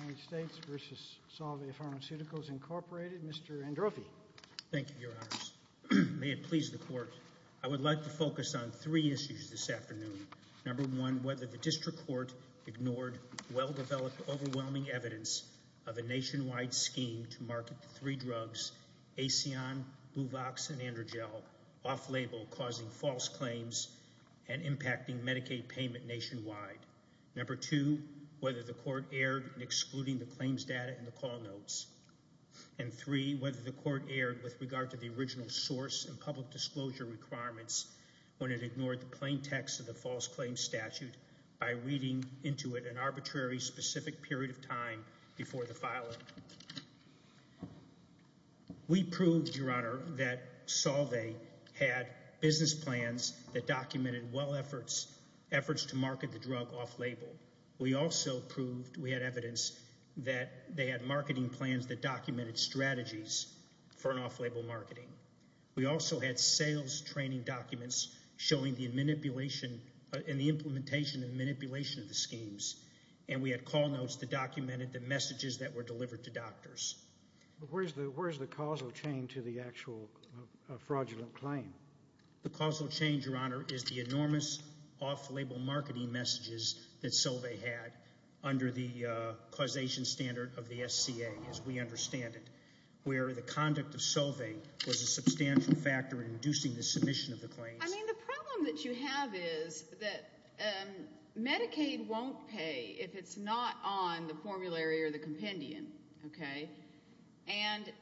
United States v. Solvay Pharmaceuticals, Incorporated. Mr. Androffi. Thank you, Your Honors. May it please the Court. I would like to focus on three issues this afternoon. Number one, whether the District Court ignored well-developed, overwhelming evidence of a nationwide scheme to market the three drugs, Acyon, Buvox, and Androgel, off-label causing false claims and impacting Medicaid payment nationwide. Number two, whether the Court erred in excluding the claims data in the call notes. And three, whether the Court erred with regard to the original source and public disclosure requirements when it ignored the plain text of the false claims statute by reading into it an arbitrary, specific period of time before the filing. We proved, Your Honor, that Solvay had business plans that documented well efforts to market the drug off-label. We also proved we had evidence that they had marketing plans that documented strategies for an off-label marketing. We also had sales training documents showing the implementation and manipulation of the schemes, and we had call notes that documented the messages that were delivered to doctors. Where is the causal chain to the actual fraudulent claim? The causal chain, Your Honor, is the enormous off-label marketing messages that Solvay had under the causation standard of the SCA, as we understand it, where the conduct of Solvay was a substantial factor in inducing the submission of the claims. I mean, the problem that you have is that Medicaid won't pay if it's not on the formulary or the compendium, okay? And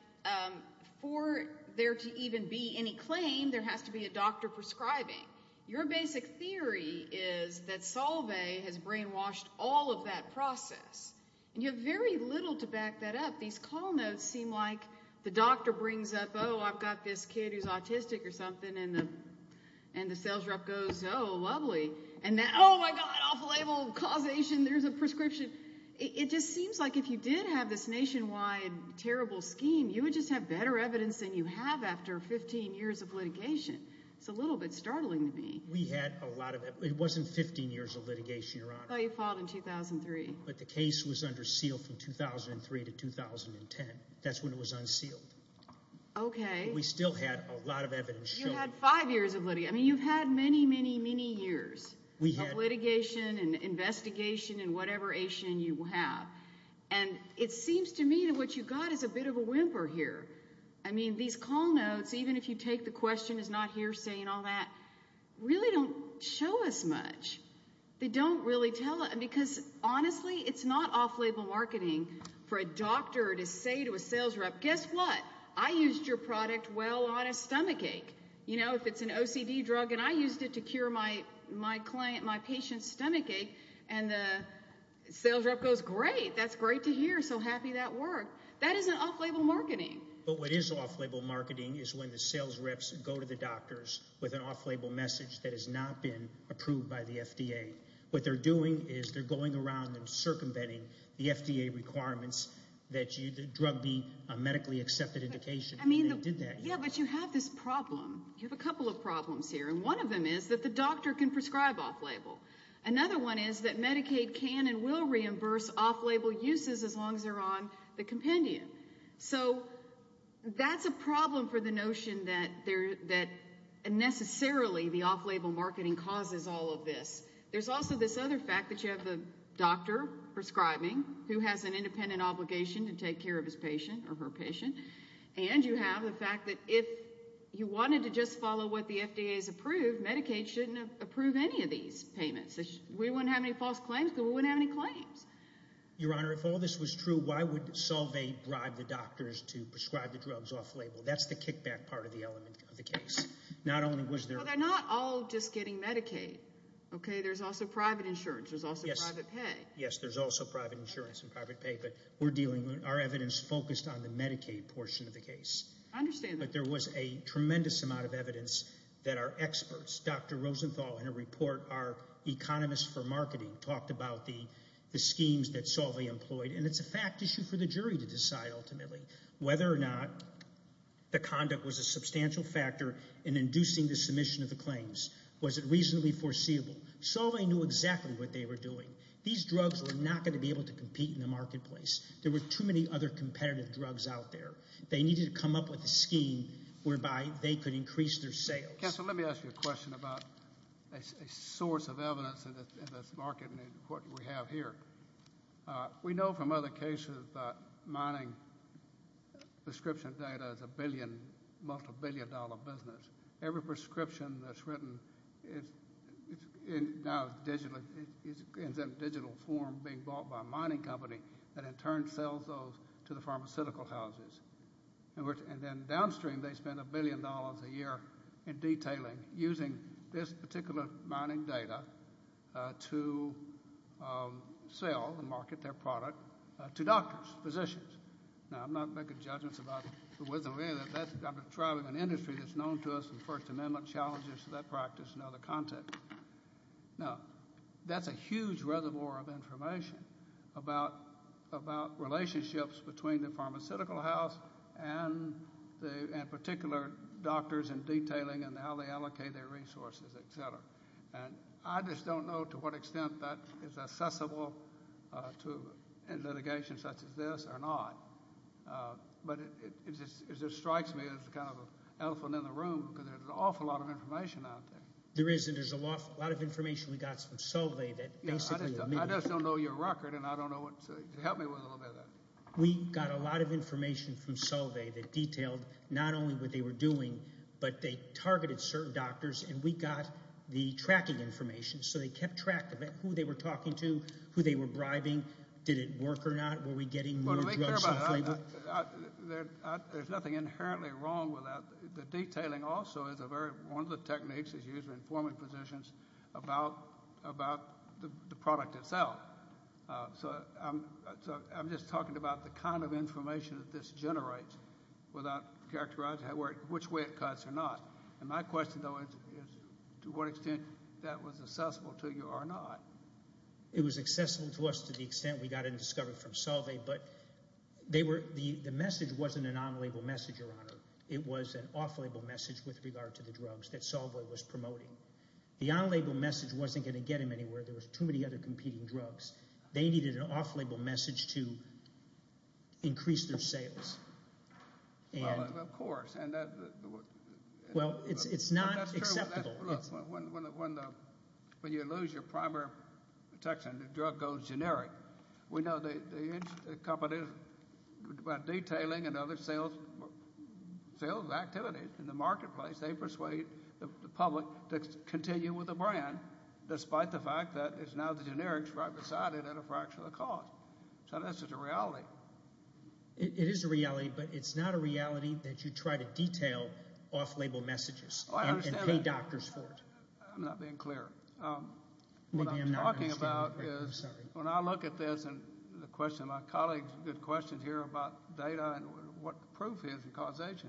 for there to even be any claim, there has to be a doctor prescribing. Your basic theory is that Solvay has brainwashed all of that process. And you have very little to back that up. These call notes seem like the doctor brings up, oh, I've got this kid who's autistic or something, and the sales rep goes, oh, lovely. And then, oh, my God, off-label causation, there's a prescription. It just seems like if you did have this nationwide terrible scheme, you would just have better evidence than you have after 15 years of litigation. It's a little bit startling to me. We had a lot of evidence. It wasn't 15 years of litigation, Your Honor. I thought you filed in 2003. But the case was under seal from 2003 to 2010. That's when it was unsealed. Okay. We still had a lot of evidence showing. You had five years of litigation. I mean, you've had many, many, many years of litigation and investigation in whatever issue you have. And it seems to me that what you've got is a bit of a whimper here. I mean, these call notes, even if you take the question is not hearsay and all that, really don't show us much. They don't really tell us. Because, honestly, it's not off-label marketing for a doctor to say to a sales rep, guess what, I used your product well on a stomachache. You know, if it's an OCD drug and I used it to cure my client, my patient's stomachache and the sales rep goes, great, that's great to hear, so happy that worked. That isn't off-label marketing. But what is off-label marketing is when the sales reps go to the doctors with an off-label message that has not been approved by the FDA. What they're doing is they're going around and circumventing the FDA requirements that the drug be a medically accepted indication. Yeah, but you have this problem. You have a couple of problems here, and one of them is that the doctor can prescribe off-label. Another one is that Medicaid can and will reimburse off-label uses as long as they're on the compendium. So that's a problem for the notion that necessarily the off-label marketing causes all of this. There's also this other fact that you have the doctor prescribing who has an independent obligation to take care of his patient or her patient, and you have the fact that if you wanted to just follow what the FDA has approved, Medicaid shouldn't approve any of these payments. We wouldn't have any false claims because we wouldn't have any claims. Your Honor, if all this was true, why would Solvay bribe the doctors to prescribe the drugs off-label? That's the kickback part of the element of the case. They're not all just getting Medicaid. There's also private insurance. There's also private pay. Yes, there's also private insurance and private pay, I understand that. But there was a tremendous amount of evidence that our experts, Dr. Rosenthal in a report, our economists for marketing, talked about the schemes that Solvay employed, and it's a fact issue for the jury to decide ultimately whether or not the conduct was a substantial factor in inducing the submission of the claims. Was it reasonably foreseeable? Solvay knew exactly what they were doing. These drugs were not going to be able to compete in the marketplace. There were too many other competitive drugs out there. They needed to come up with a scheme whereby they could increase their sales. Counselor, let me ask you a question about a source of evidence in this market and what we have here. We know from other cases that mining prescription data is a billion, multi-billion dollar business. Every prescription that's written is now in digital form being bought by a mining company that in turn sells those to the pharmaceutical houses. And then downstream they spend a billion dollars a year in detailing, using this particular mining data to sell and market their product to doctors, physicians. Now, I'm not making judgments about the wisdom of any of that. I'm describing an industry that's known to us in the First Amendment challenges to that practice and other contexts. Now, that's a huge reservoir of information about relationships between the pharmaceutical house and particular doctors and detailing and how they allocate their resources, et cetera. And I just don't know to what extent that is accessible in litigation such as this or not. But it just strikes me as kind of an elephant in the room because there's an awful lot of information out there. There is, and there's a lot of information we got from Solvay that basically admitted it. I just don't know your record, and I don't know what to help me with a little bit of that. We got a lot of information from Solvay that detailed not only what they were doing, but they targeted certain doctors, and we got the tracking information. So they kept track of it, who they were talking to, who they were bribing. Did it work or not? Were we getting more drugs in flavor? There's nothing inherently wrong with that. The detailing also is one of the techniques that's used in informing physicians about the product itself. So I'm just talking about the kind of information that this generates without characterizing which way it cuts or not. And my question, though, is to what extent that was accessible to you or not. It was accessible to us to the extent we got it and discovered it from Solvay, but the message wasn't a non-label message, Your Honor. It was an off-label message with regard to the drugs that Solvay was promoting. The on-label message wasn't going to get them anywhere. There were too many other competing drugs. They needed an off-label message to increase their sales. Well, of course. Well, it's not acceptable. When you lose your primary protection, the drug goes generic. We know that companies, by detailing and other sales activities in the marketplace, they persuade the public to continue with the brand despite the fact that it's now the generics right beside it at a fraction of the cost. So that's just a reality. It is a reality, but it's not a reality that you try to detail off-label messages and pay doctors for it. I'm not being clear. What I'm talking about is when I look at this and the question, my colleagues did questions here about data and what proof is and causation.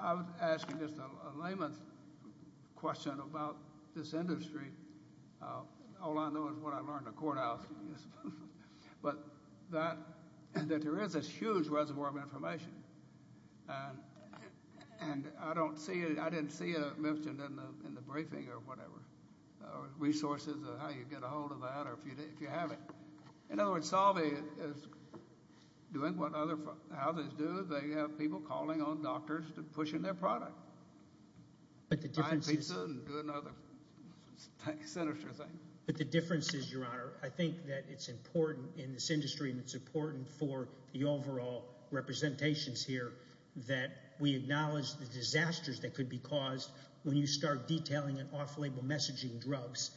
I was asking just a layman's question about this industry. All I know is what I learned at courthouse. And I don't see it. I didn't see it mentioned in the briefing or whatever, resources of how you get a hold of that or if you have it. In other words, Salve is doing what other houses do. They have people calling on doctors to push in their product. But the difference is, Your Honor, I think that it's important in this industry and it's important for the overall representations here that we acknowledge the disasters that could be caused when you start detailing and off-label messaging drugs.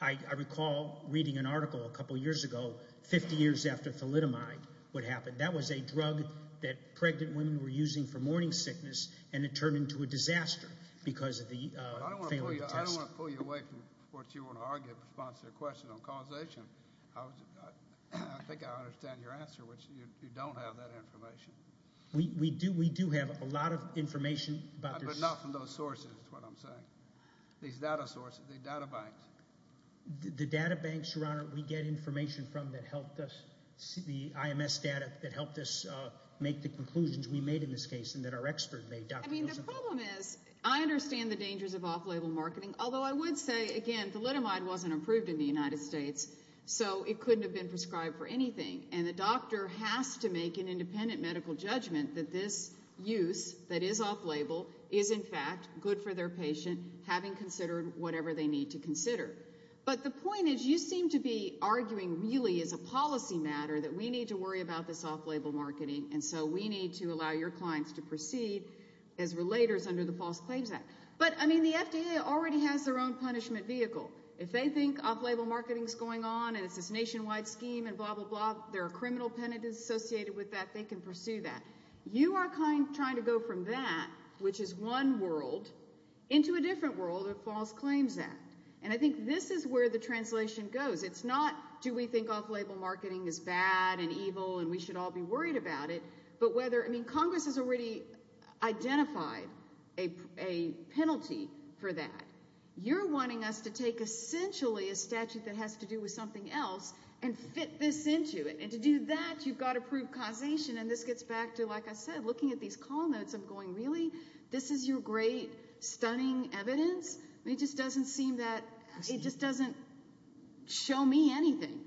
I recall reading an article a couple years ago 50 years after thalidomide would happen. That was a drug that pregnant women were using for morning sickness, and it turned into a disaster because of the failing test. I don't want to pull you away from what you want to argue in response to your question on causation. I think I understand your answer, which you don't have that information. We do have a lot of information about this. But not from those sources is what I'm saying. These data sources, the data banks. The data banks, Your Honor, we get information from that helped us see the IMS data that helped us make the conclusions we made in this case and that our expert made. I mean, the problem is I understand the dangers of off-label marketing, although I would say, again, thalidomide wasn't approved in the United States, so it couldn't have been prescribed for anything, and the doctor has to make an independent medical judgment that this use that is off-label is in fact good for their patient having considered whatever they need to consider. But the point is you seem to be arguing really as a policy matter that we need to worry about this off-label marketing, and so we need to allow your clients to proceed as relators under the False Claims Act. But, I mean, the FDA already has their own punishment vehicle. If they think off-label marketing is going on and it's this nationwide scheme and blah, blah, blah, there are criminal penalties associated with that, they can pursue that. You are trying to go from that, which is one world, into a different world of the False Claims Act. And I think this is where the translation goes. It's not do we think off-label marketing is bad and evil and we should all be worried about it, but whether—I mean, Congress has already identified a penalty for that. You're wanting us to take essentially a statute that has to do with something else and fit this into it. And to do that, you've got to prove causation, and this gets back to, like I said, looking at these call notes, I'm going, really? This is your great, stunning evidence? It just doesn't seem that—it just doesn't show me anything.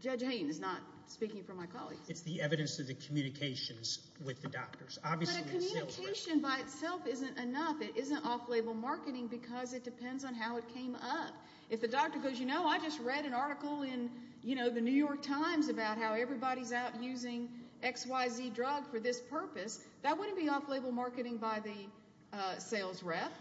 Judge Haynes is not speaking for my colleagues. It's the evidence of the communications with the doctors. But a communication by itself isn't enough. It isn't off-label marketing because it depends on how it came up. If the doctor goes, you know, I just read an article in the New York Times about how everybody's out using XYZ drug for this purpose, that wouldn't be off-label marketing by the sales rep.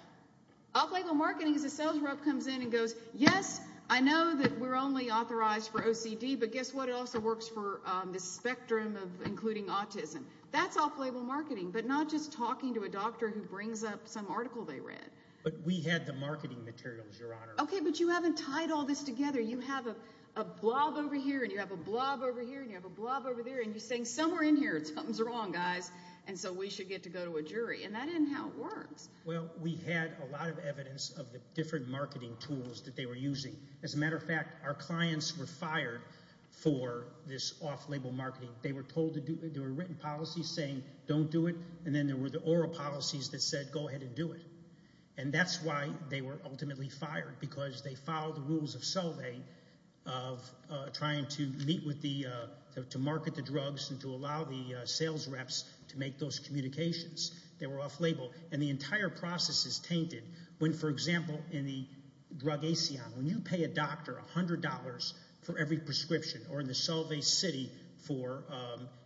Off-label marketing is a sales rep comes in and goes, yes, I know that we're only authorized for OCD, but guess what, it also works for the spectrum of including autism. That's off-label marketing, but not just talking to a doctor who brings up some article they read. But we had the marketing materials, Your Honor. Okay, but you haven't tied all this together. You have a blob over here, and you have a blob over here, and you have a blob over there, and you're saying somewhere in here something's wrong, guys, and so we should get to go to a jury. And that isn't how it works. Well, we had a lot of evidence of the different marketing tools that they were using. As a matter of fact, our clients were fired for this off-label marketing. They were told to do it. There were written policies saying don't do it, and then there were the oral policies that said go ahead and do it. And that's why they were ultimately fired because they followed the rules of Solvay of trying to meet with the, to market the drugs and to allow the sales reps to make those communications. They were off-label, and the entire process is tainted. When, for example, in the drug Acyon, when you pay a doctor $100 for every prescription or in the Solvay city for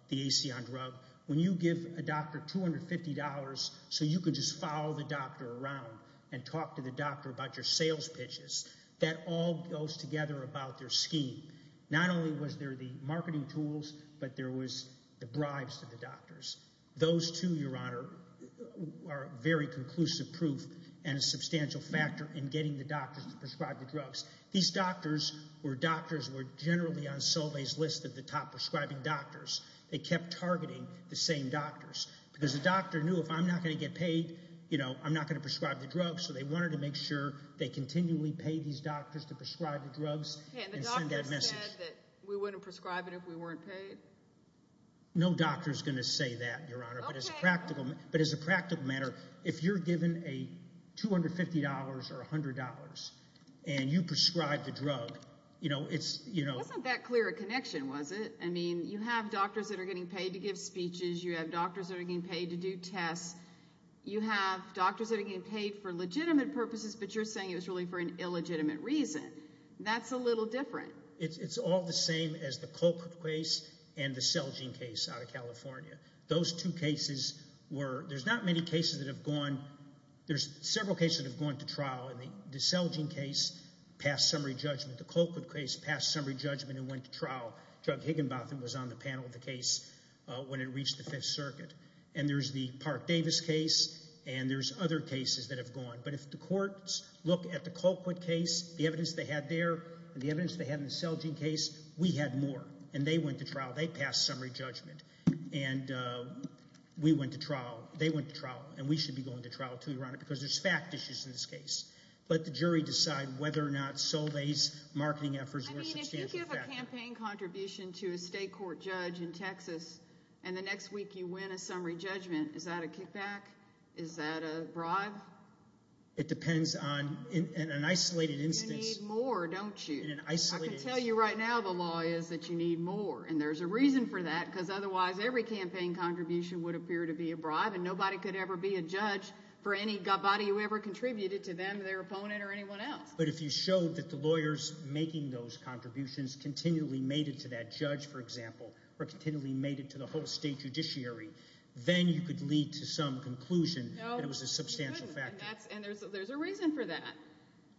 the Acyon drug, when you give a doctor $250 so you can just follow the doctor around and talk to the doctor about your sales pitches, that all goes together about their scheme. Not only was there the marketing tools, but there was the bribes to the doctors. Those two, Your Honor, are very conclusive proof and a substantial factor in getting the doctors to prescribe the drugs. These doctors were doctors who were generally on Solvay's list of the top prescribing doctors. They kept targeting the same doctors because the doctor knew if I'm not going to get paid, you know, I'm not going to prescribe the drugs, so they wanted to make sure they continually paid these doctors to prescribe the drugs and send that message. And the doctor said that we wouldn't prescribe it if we weren't paid? No doctor's going to say that, Your Honor, but as a practical matter, if you're given $250 or $100 and you prescribe the drug, you know, it's... It wasn't that clear a connection, was it? I mean, you have doctors that are getting paid to give speeches. You have doctors that are getting paid to do tests. You have doctors that are getting paid for legitimate purposes, but you're saying it was really for an illegitimate reason. That's a little different. It's all the same as the Colquitt case and the Selgin case out of California. Those two cases were... There's not many cases that have gone... There's several cases that have gone to trial. The Selgin case passed summary judgment. The Colquitt case passed summary judgment and went to trial. Jug Higginbotham was on the panel of the case when it reached the Fifth Circuit. And there's the Park Davis case, and there's other cases that have gone. But if the courts look at the Colquitt case, the evidence they had there and the evidence they had in the Selgin case, we had more. And they went to trial. They passed summary judgment. And we went to trial. They went to trial. And we should be going to trial, too, Your Honor, because there's fact issues in this case. Let the jury decide whether or not Solveig's marketing efforts were substantial. I mean, if you give a campaign contribution to a state court judge in Texas and the next week you win a summary judgment, is that a kickback? Is that a bribe? It depends on... In an isolated instance... I can tell you right now the law is that you need more, and there's a reason for that because otherwise every campaign contribution would appear to be a bribe and nobody could ever be a judge for anybody who ever contributed to them, their opponent, or anyone else. But if you showed that the lawyers making those contributions continually made it to that judge, for example, or continually made it to the whole state judiciary, then you could lead to some conclusion that it was a substantial factor. No, you couldn't, and there's a reason for that.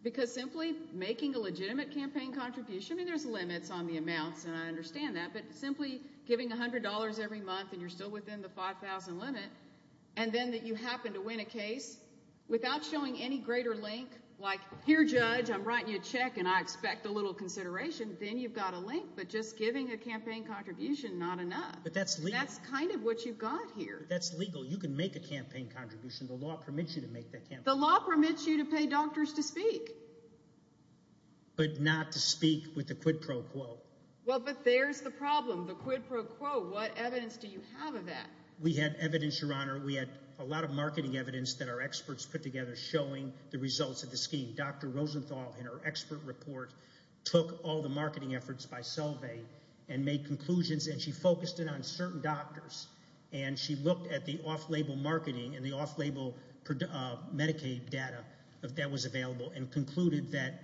Because simply making a legitimate campaign contribution... I mean, there's limits on the amounts, and I understand that, but simply giving $100 every month and you're still within the $5,000 limit, and then you happen to win a case without showing any greater link, like, here, judge, I'm writing you a check and I expect a little consideration, then you've got a link, but just giving a campaign contribution, not enough. That's kind of what you've got here. But that's legal. You can make a campaign contribution. The law permits you to make that contribution. The law permits you to pay doctors to speak. But not to speak with the quid pro quo. Well, but there's the problem, the quid pro quo. What evidence do you have of that? We had evidence, Your Honor. We had a lot of marketing evidence that our experts put together showing the results of the scheme. Dr. Rosenthal, in her expert report, took all the marketing efforts by Selvey and made conclusions, and she focused it on certain doctors. And she looked at the off-label marketing and the off-label Medicaid data that was available and concluded that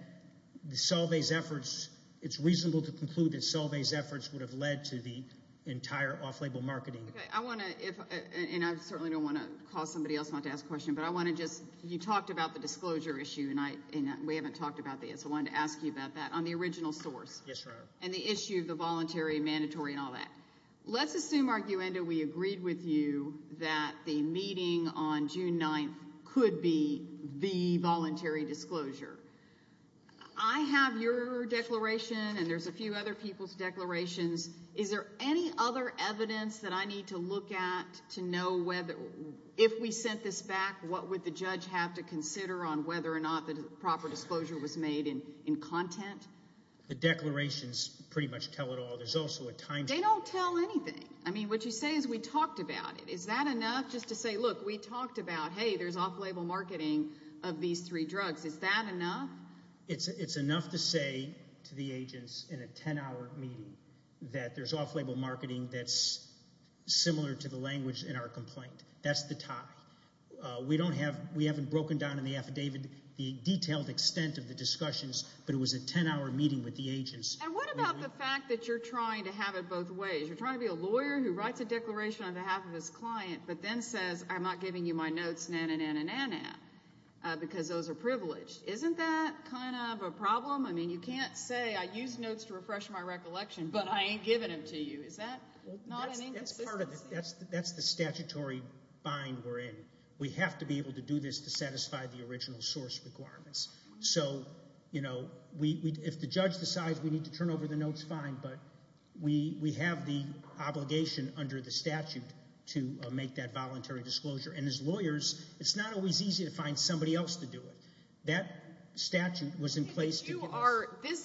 Selvey's efforts, it's reasonable to conclude that Selvey's efforts would have led to the entire off-label marketing. Okay, I want to, and I certainly don't want to cause somebody else not to ask a question, but I want to just, you talked about the disclosure issue, and we haven't talked about this. I wanted to ask you about that, on the original source. Yes, Your Honor. And the issue of the voluntary, mandatory, and all that. Let's assume, arguendo, we agreed with you that the meeting on June 9th could be the voluntary disclosure. I have your declaration, and there's a few other people's declarations. Is there any other evidence that I need to look at to know whether, if we sent this back, what would the judge have to consider on whether or not the proper disclosure was made in content? The declarations pretty much tell it all. They don't tell anything. I mean, what you say is we talked about it. Is that enough just to say, look, we talked about, hey, there's off-label marketing of these three drugs. Is that enough? It's enough to say to the agents in a 10-hour meeting that there's off-label marketing that's similar to the language in our complaint. That's the tie. We haven't broken down in the affidavit the detailed extent of the discussions, but it was a 10-hour meeting with the agents. And what about the fact that you're trying to have it both ways? You're trying to be a lawyer who writes a declaration on behalf of his client but then says, I'm not giving you my notes, na-na-na-na-na-na, because those are privileged. Isn't that kind of a problem? I mean, you can't say, I used notes to refresh my recollection, but I ain't giving them to you. Is that not an inconsistency? That's the statutory bind we're in. We have to be able to do this to satisfy the original source requirements. So, you know, if the judge decides we need to turn over the notes, fine, but we have the obligation under the statute to make that voluntary disclosure. And as lawyers, it's not always easy to find somebody else to do it. That statute was in place to do this.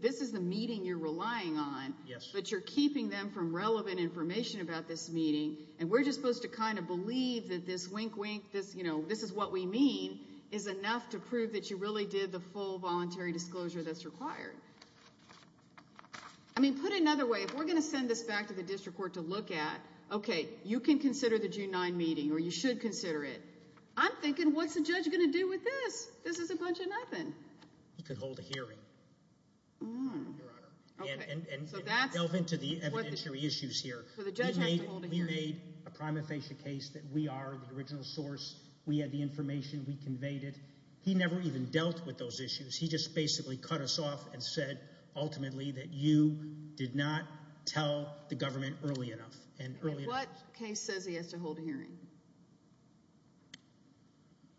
This is the meeting you're relying on, but you're keeping them from relevant information about this meeting, and we're just supposed to kind of believe that this wink-wink, this, you know, this is what we mean, is enough to prove that you really did the full voluntary disclosure that's required. I mean, put it another way. If we're going to send this back to the district court to look at, okay, you can consider the June 9 meeting, or you should consider it. I'm thinking, what's the judge going to do with this? This is a bunch of nothing. He could hold a hearing, Your Honor. So the judge has to hold a hearing. We made a prima facie case that we are the original source. We had the information. We conveyed it. He never even dealt with those issues. He just basically cut us off and said, ultimately, that you did not tell the government early enough. And what case says he has to hold a hearing?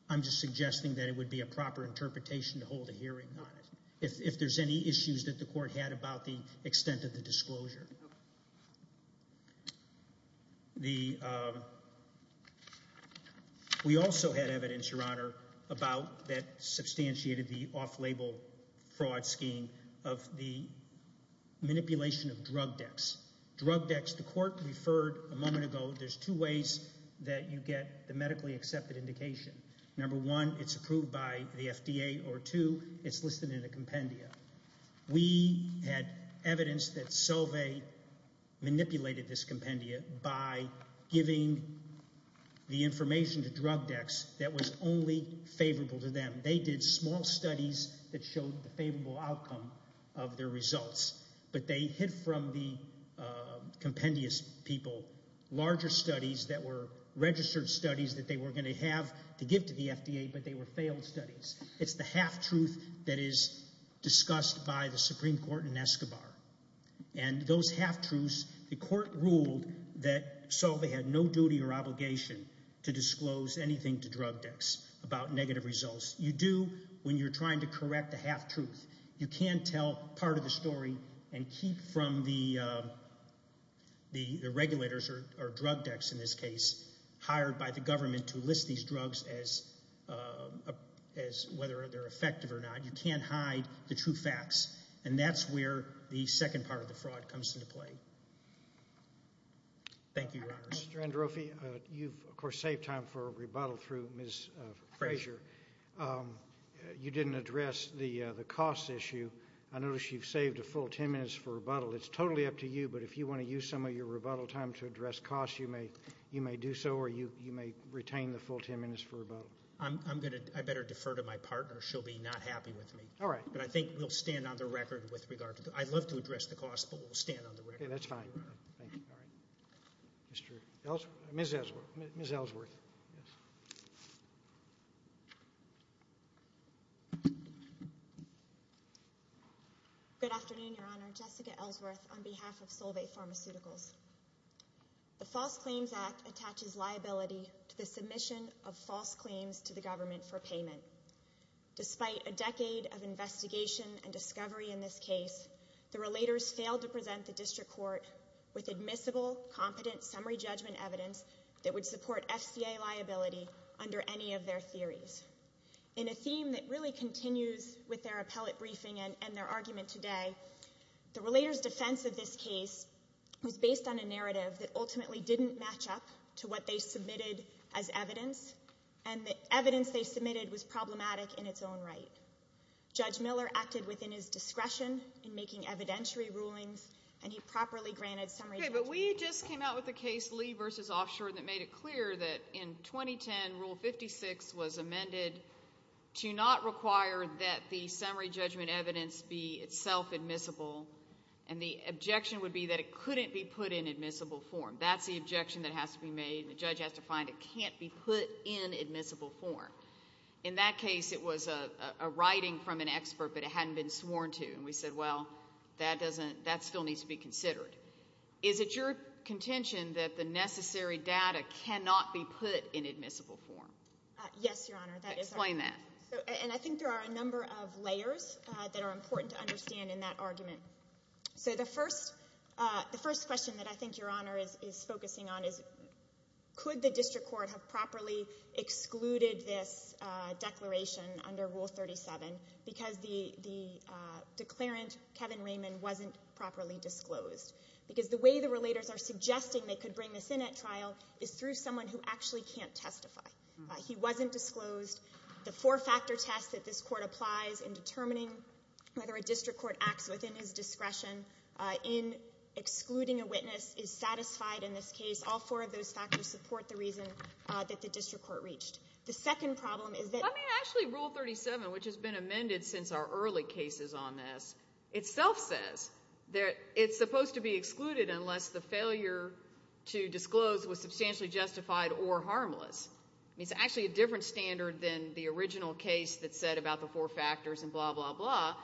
I'm just suggesting that it would be a proper interpretation to hold a hearing on it if there's any issues that the court had about the extent of the disclosure. We also had evidence, Your Honor, about that substantiated the off-label fraud scheme of the manipulation of drug decks. Drug decks, the court referred a moment ago, there's two ways that you get the medically accepted indication. Number one, it's approved by the FDA, or two, it's listed in a compendia. We had evidence that Solveig manipulated this compendia by giving the information to drug decks that was only favorable to them. They did small studies that showed the favorable outcome of their results, but they hid from the compendious people larger studies that were registered studies that they were going to have to give to the FDA, but they were failed studies. It's the half-truth that is discussed by the Supreme Court in Escobar, and those half-truths, the court ruled that Solveig had no duty or obligation to disclose anything to drug decks about negative results. You do when you're trying to correct the half-truth. You can tell part of the story and keep from the regulators, or drug decks in this case, hired by the government to list these drugs as whether they're effective or not. You can't hide the true facts, and that's where the second part of the fraud comes into play. Thank you, Your Honors. Mr. Androffi, you've, of course, saved time for a rebuttal through Ms. Frazier. You didn't address the cost issue. I notice you've saved a full 10 minutes for rebuttal. It's totally up to you, but if you want to use some of your rebuttal time to address costs, you may do so or you may retain the full 10 minutes for rebuttal. I better defer to my partner. She'll be not happy with me. All right. But I think we'll stand on the record with regard to that. I'd love to address the cost, but we'll stand on the record. Okay, that's fine. Thank you. All right. Ms. Ellsworth. Good afternoon, Your Honor. Jessica Ellsworth on behalf of Solveig Pharmaceuticals. The False Claims Act attaches liability to the submission of false claims to the government for payment. Despite a decade of investigation and discovery in this case, the relators failed to present the district court with admissible, competent summary judgment evidence that would support FCA liability under any of their theories. In a theme that really continues with their appellate briefing and their argument today, the relators' defense of this case was based on a narrative that ultimately didn't match up to what they submitted as evidence, and the evidence they submitted was problematic in its own right. Judge Miller acted within his discretion in making evidentiary rulings, and he properly granted summary judgment. Okay, but we just came out with a case, Lee v. Offshore, that made it clear that in 2010, Rule 56 was amended to not require that the summary judgment evidence be itself admissible, and the objection would be that it couldn't be put in admissible form. That's the objection that has to be made, and the judge has to find it can't be put in admissible form. In that case, it was a writing from an expert, but it hadn't been sworn to, and we said, well, that still needs to be considered. Is it your contention that the necessary data cannot be put in admissible form? Yes, Your Honor. Explain that. And I think there are a number of layers that are important to understand in that argument. So the first question that I think Your Honor is focusing on is, could the district court have properly excluded this declaration under Rule 37 because the declarant, Kevin Raymond, wasn't properly disclosed? Because the way the relators are suggesting they could bring this in at trial is through someone who actually can't testify. He wasn't disclosed. The four-factor test that this court applies in determining whether a district court acts within his discretion in excluding a witness is satisfied in this case. All four of those factors support the reason that the district court reached. The second problem is that – I mean, actually, Rule 37, which has been amended since our early cases on this, itself says that it's supposed to be excluded unless the failure to disclose was substantially justified or harmless. I mean, it's actually a different standard than the original case that said about the four factors and blah, blah, blah,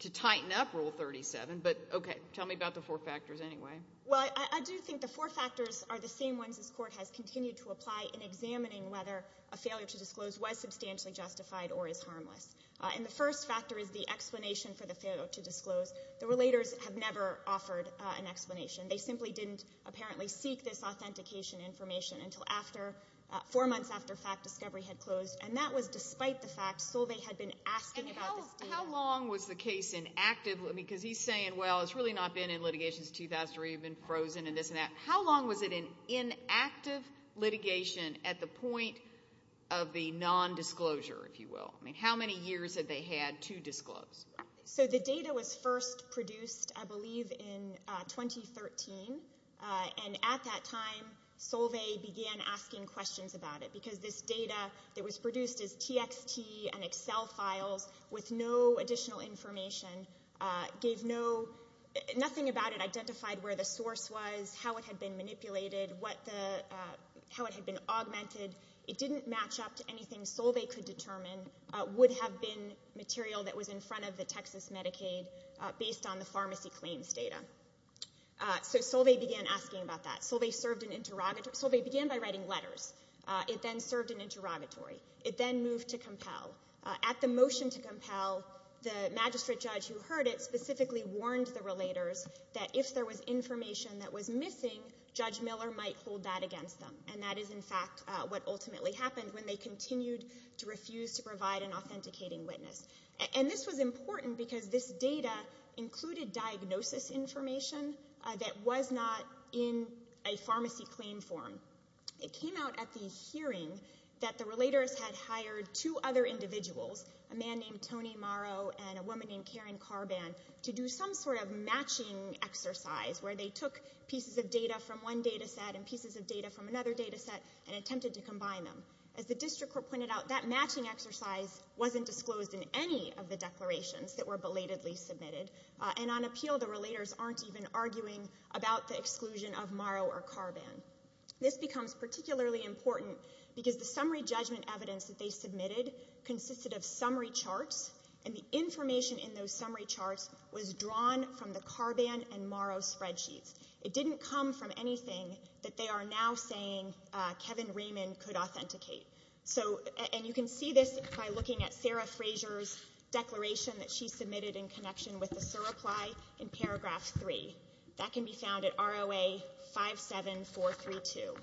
to tighten up Rule 37. But, okay, tell me about the four factors anyway. Well, I do think the four factors are the same ones this court has continued to apply in examining whether a failure to disclose was substantially justified or is harmless. And the first factor is the explanation for the failure to disclose. The relators have never offered an explanation. They simply didn't apparently seek this authentication information until after – four months after fact discovery had closed. And that was despite the fact Solveig had been asking about this data. And how long was the case inactive? I mean, because he's saying, well, it's really not been in litigation since 2003. You've been frozen and this and that. How long was it in inactive litigation at the point of the nondisclosure, if you will? I mean, how many years had they had to disclose? So the data was first produced, I believe, in 2013. And at that time Solveig began asking questions about it because this data that was produced as TXT and Excel files with no additional information gave no – nothing about it identified where the source was, how it had been manipulated, how it had been augmented. It didn't match up to anything Solveig could determine would have been material that was in front of the Texas Medicaid based on the pharmacy claims data. So Solveig began asking about that. Solveig served an interrogatory – Solveig began by writing letters. It then served an interrogatory. It then moved to compel. At the motion to compel, the magistrate judge who heard it specifically warned the relators that if there was information that was missing, Judge Miller might hold that against them. And that is, in fact, what ultimately happened when they continued to refuse to provide an authenticating witness. And this was important because this data included diagnosis information that was not in a pharmacy claim form. It came out at the hearing that the relators had hired two other individuals, a man named Tony Morrow and a woman named Karen Carban, to do some sort of matching exercise where they took pieces of data from one data set and pieces of data from another data set and attempted to combine them. As the district court pointed out, that matching exercise wasn't disclosed in any of the declarations that were belatedly submitted. And on appeal, the relators aren't even arguing about the exclusion of Morrow or Carban. This becomes particularly important because the summary judgment evidence that they submitted consisted of summary charts, and the information in those summary charts was drawn from the Carban and Morrow spreadsheets. It didn't come from anything that they are now saying Kevin Raymond could authenticate. And you can see this by looking at Sarah Frazier's declaration that she submitted in connection with the surreply in paragraph 3. That can be found at ROA 57432.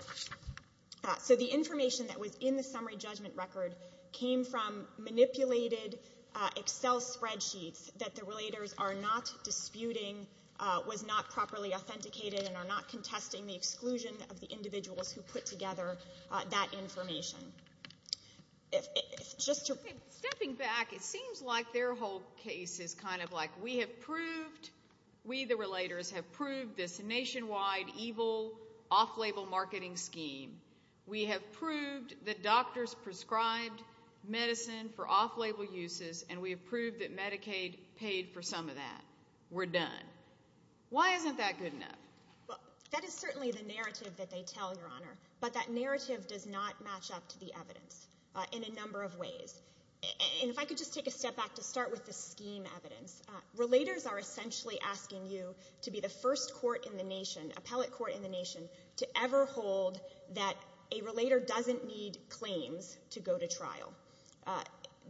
So the information that was in the summary judgment record came from manipulated Excel spreadsheets that the relators are not disputing was not properly authenticated and are not contesting the exclusion of the individuals who put together that information. Stepping back, it seems like their whole case is kind of like, We, the relators, have proved this nationwide evil off-label marketing scheme. We have proved that doctors prescribed medicine for off-label uses, and we have proved that Medicaid paid for some of that. We're done. Why isn't that good enough? That is certainly the narrative that they tell, Your Honor, but that narrative does not match up to the evidence in a number of ways. And if I could just take a step back to start with the scheme evidence. Relators are essentially asking you to be the first court in the nation, appellate court in the nation, to ever hold that a relator doesn't need claims to go to trial.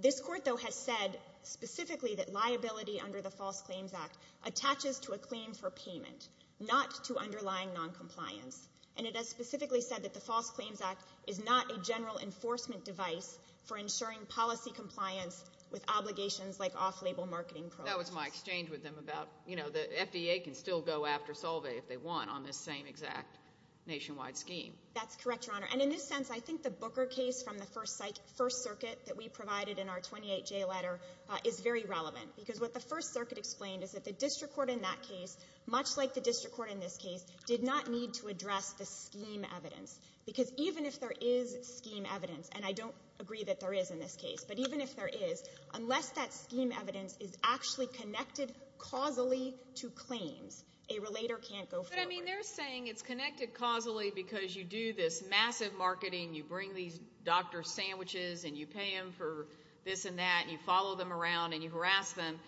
This court, though, has said specifically that liability under the False Claims Act attaches to a claim for payment, not to underlying noncompliance. And it has specifically said that the False Claims Act is not a general enforcement device for ensuring policy compliance with obligations like off-label marketing programs. That was my exchange with them about, you know, the FDA can still go after Solveig if they want on this same exact nationwide scheme. That's correct, Your Honor. And in this sense, I think the Booker case from the First Circuit that we provided in our 28-J letter is very relevant because what the First Circuit explained is that the district court in that case, much like the district court in this case, did not need to address the scheme evidence because even if there is scheme evidence, and I don't agree that there is in this case, but even if there is, unless that scheme evidence is actually connected causally to claims, a relator can't go forward. But, I mean, they're saying it's connected causally because you do this massive marketing, you bring these doctor sandwiches and you pay them for this and that, and you follow them around and you harass them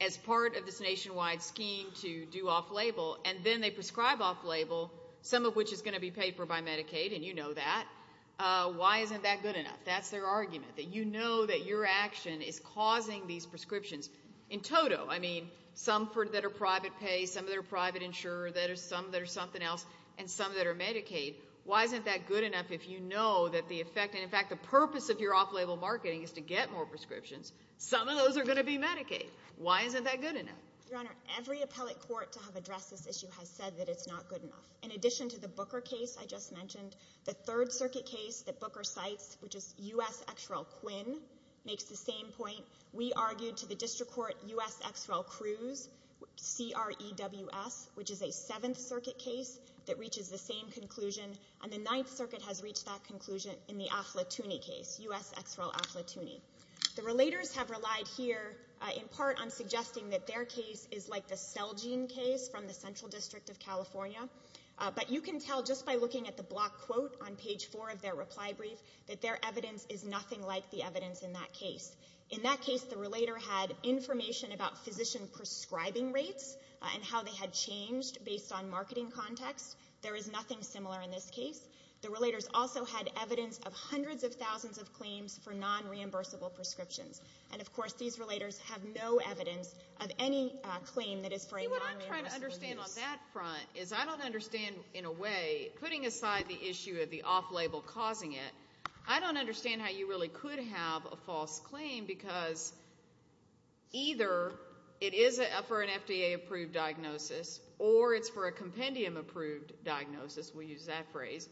as part of this nationwide scheme to do off-label, and then they prescribe off-label, some of which is going to be paid for by Medicaid, and you know that. Why isn't that good enough? That's their argument, that you know that your action is causing these prescriptions. In total, I mean, some that are private pay, some that are private insurer, some that are something else, and some that are Medicaid. Why isn't that good enough if you know that the effect, and in fact, the purpose of your off-label marketing is to get more prescriptions. Some of those are going to be Medicaid. Why isn't that good enough? Your Honor, every appellate court to have addressed this issue has said that it's not good enough. In addition to the Booker case I just mentioned, the Third Circuit case that Booker cites, which is U.S. X. Rel. Quinn, makes the same point. We argued to the district court U.S. X. Rel. Cruz, C.R.E.W.S., which is a Seventh Circuit case that reaches the same conclusion, and the Ninth Circuit has reached that conclusion in the Affletuni case, U.S. X. Rel. Affletuni. The relators have relied here in part on suggesting that their case is like the Celgene case from the Central District of California, but you can tell just by looking at the block quote on page four of their reply brief that their evidence is nothing like the evidence in that case. In that case, the relator had information about physician prescribing rates and how they had changed based on marketing context. There is nothing similar in this case. The relators also had evidence of hundreds of thousands of claims for non-reimbursable prescriptions, and, of course, these relators have no evidence of any claim that is for a non-reimbursable prescription. See, what I'm trying to understand on that front is I don't understand, in a way, putting aside the issue of the off-label causing it, I don't understand how you really could have a false claim because either it is for an FDA-approved diagnosis or it's for a compendium-approved diagnosis, we'll use that phrase,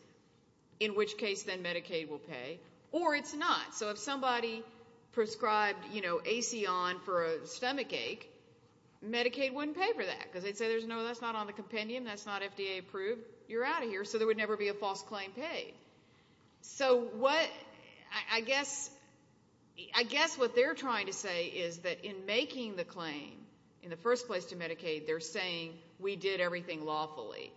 in which case then Medicaid will pay, or it's not. So if somebody prescribed, you know, AC on for a stomachache, Medicaid wouldn't pay for that because they'd say, no, that's not on the compendium, that's not FDA-approved, you're out of here, so there would never be a false claim paid. So I guess what they're trying to say is that in making the claim in the first place to Medicaid, they're saying we did everything lawfully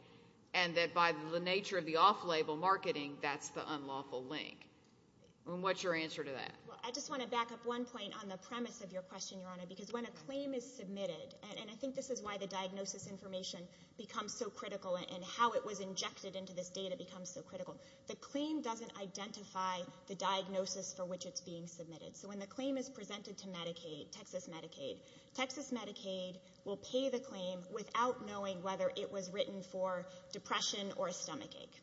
and that by the nature of the off-label marketing, that's the unlawful link. And what's your answer to that? Well, I just want to back up one point on the premise of your question, Your Honor, because when a claim is submitted, and I think this is why the diagnosis information becomes so critical and how it was injected into this data becomes so critical, the claim doesn't identify the diagnosis for which it's being submitted. So when the claim is presented to Medicaid, Texas Medicaid, Texas Medicaid will pay the claim without knowing whether it was written for depression or a stomachache.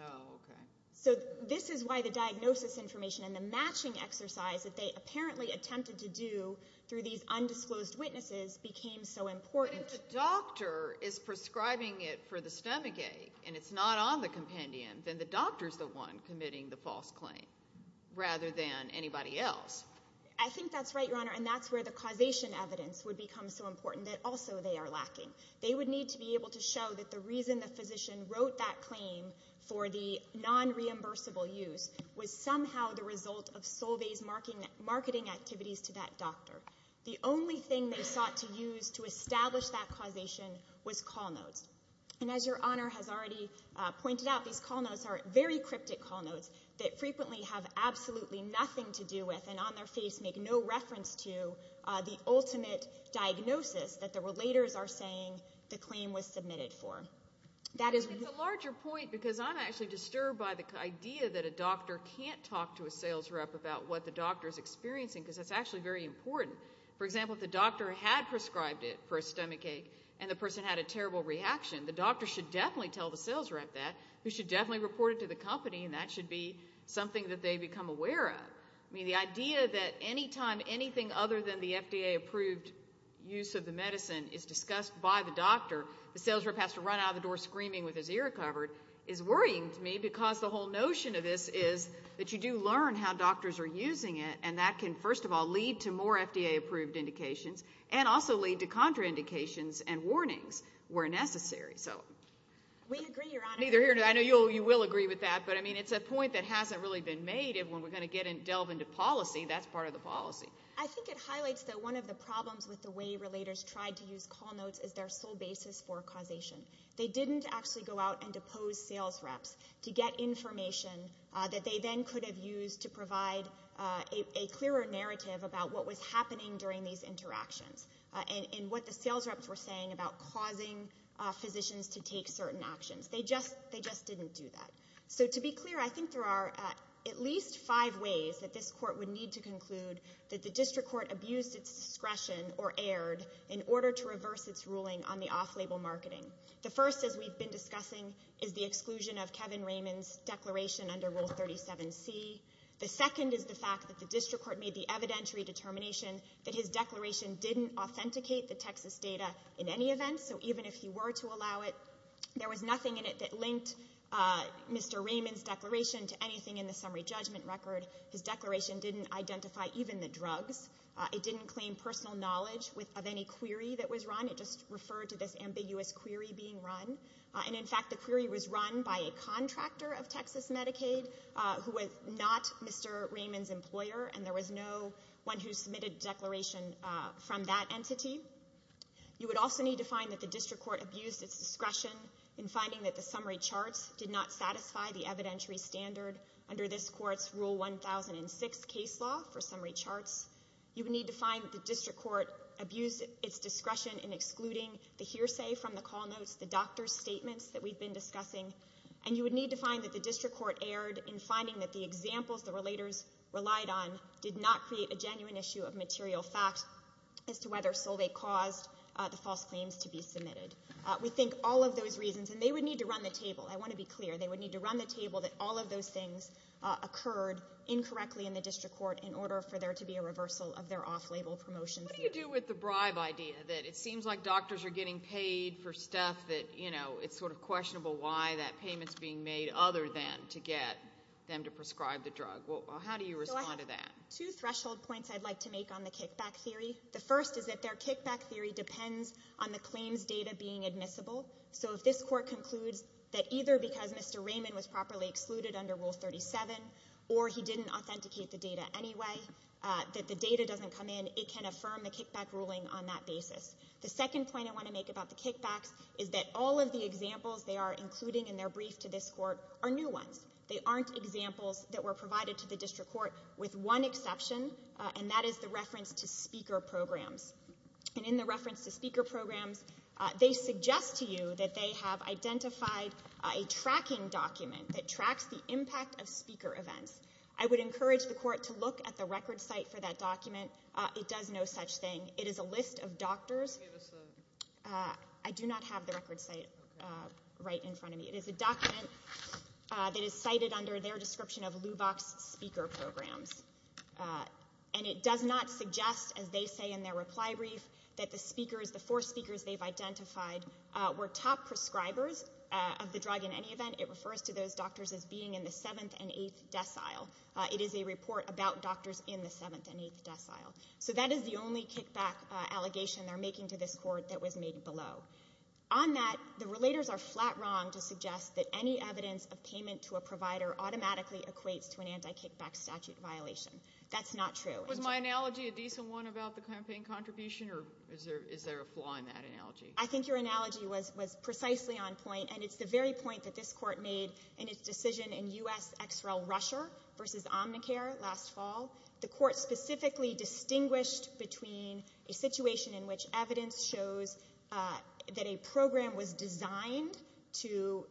Oh, okay. So this is why the diagnosis information and the matching exercise that they apparently attempted to do through these undisclosed witnesses became so important. If the doctor is prescribing it for the stomachache and it's not on the compendium, then the doctor is the one committing the false claim rather than anybody else. I think that's right, Your Honor, and that's where the causation evidence would become so important that also they are lacking. They would need to be able to show that the reason the physician wrote that claim for the non-reimbursable use was somehow the result of Solvay's marketing activities to that doctor. The only thing they sought to use to establish that causation was call notes. And as Your Honor has already pointed out, these call notes are very cryptic call notes that frequently have absolutely nothing to do with and on their face make no reference to the ultimate diagnosis that the relators are saying the claim was submitted for. It's a larger point because I'm actually disturbed by the idea that a doctor can't talk to a sales rep about what the doctor is experiencing because that's actually very important. For example, if the doctor had prescribed it for a stomachache and the person had a terrible reaction, the doctor should definitely tell the sales rep that. They should definitely report it to the company, and that should be something that they become aware of. The idea that any time anything other than the FDA-approved use of the medicine is discussed by the doctor, the sales rep has to run out of the door screaming with his ear covered is worrying to me because the whole notion of this is that you do learn how doctors are using it, and that can, first of all, lead to more FDA-approved indications and also lead to contraindications and warnings where necessary. We agree, Your Honor. I know you will agree with that, but it's a point that hasn't really been made. When we're going to delve into policy, that's part of the policy. I think it highlights that one of the problems with the way relators tried to use call notes is their sole basis for causation. They didn't actually go out and depose sales reps to get information that they then could have used to provide a clearer narrative about what was happening during these interactions and what the sales reps were saying about causing physicians to take certain actions. They just didn't do that. So to be clear, I think there are at least five ways that this court would need to conclude that the district court abused its discretion or erred in order to reverse its ruling on the off-label marketing. The first, as we've been discussing, is the exclusion of Kevin Raymond's declaration under Rule 37C. The second is the fact that the district court made the evidentiary determination that his declaration didn't authenticate the Texas data in any event, so even if he were to allow it, there was nothing in it that linked Mr. Raymond's declaration to anything in the summary judgment record. His declaration didn't identify even the drugs. It didn't claim personal knowledge of any query that was run. It just referred to this ambiguous query being run. And, in fact, the query was run by a contractor of Texas Medicaid who was not Mr. Raymond's employer, and there was no one who submitted a declaration from that entity. You would also need to find that the district court abused its discretion in finding that the summary charts did not satisfy the evidentiary standard under this court's Rule 1006 case law for summary charts. You would need to find that the district court abused its discretion in excluding the hearsay from the call notes, the doctor's statements that we've been discussing, and you would need to find that the district court erred in finding that the examples the relators relied on did not create a genuine issue of material fact as to whether Solvay caused the false claims to be submitted. We think all of those reasons, and they would need to run the table. I want to be clear. They would need to run the table that all of those things occurred incorrectly in the district court in order for there to be a reversal of their off-label promotions. What do you do with the bribe idea that it seems like doctors are getting paid for stuff that, you know, it's sort of questionable why that payment's being made other than to get them to prescribe the drug? How do you respond to that? So I have two threshold points I'd like to make on the kickback theory. The first is that their kickback theory depends on the claims data being admissible. So if this court concludes that either because Mr. Raymond was properly excluded under Rule 37 or he didn't authenticate the data anyway, that the data doesn't come in, it can affirm the kickback ruling on that basis. The second point I want to make about the kickbacks is that all of the examples they are including in their brief to this court are new ones. They aren't examples that were provided to the district court with one exception, and that is the reference to speaker programs. And in the reference to speaker programs, they suggest to you that they have identified a tracking document that tracks the impact of speaker events. I would encourage the court to look at the record site for that document. It does no such thing. It is a list of doctors. I do not have the record site right in front of me. It is a document that is cited under their description of Lubox speaker programs. And it does not suggest, as they say in their reply brief, that the speakers, the four speakers they've identified were top prescribers of the drug in any event. It refers to those doctors as being in the seventh and eighth decile. It is a report about doctors in the seventh and eighth decile. So that is the only kickback allegation they're making to this court that was made below. On that, the relators are flat wrong to suggest that any evidence of payment to a provider automatically equates to an anti-kickback statute violation. That's not true. Was my analogy a decent one about the campaign contribution, or is there a flaw in that analogy? I think your analogy was precisely on point, and it's the very point that this court made in its decision in U.S. XRL Russia versus Omnicare last fall. The court specifically distinguished between a situation in which evidence shows that a program was designed to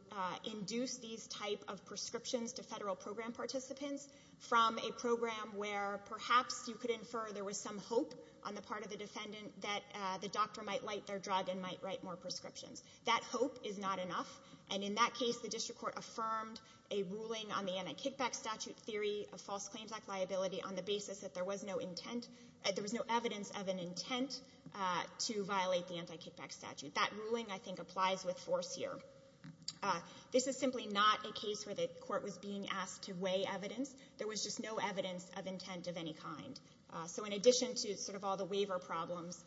induce these type of prescriptions to federal program participants from a program where perhaps you could infer there was some hope on the part of the defendant that the doctor might light their drug and might write more prescriptions. That hope is not enough, and in that case, the district court affirmed a ruling on the anti-kickback statute theory of false claims act liability on the basis that there was no evidence of an intent to violate the anti-kickback statute. That ruling, I think, applies with force here. This is simply not a case where the court was being asked to weigh evidence. There was just no evidence of intent of any kind. So in addition to sort of all the waiver problems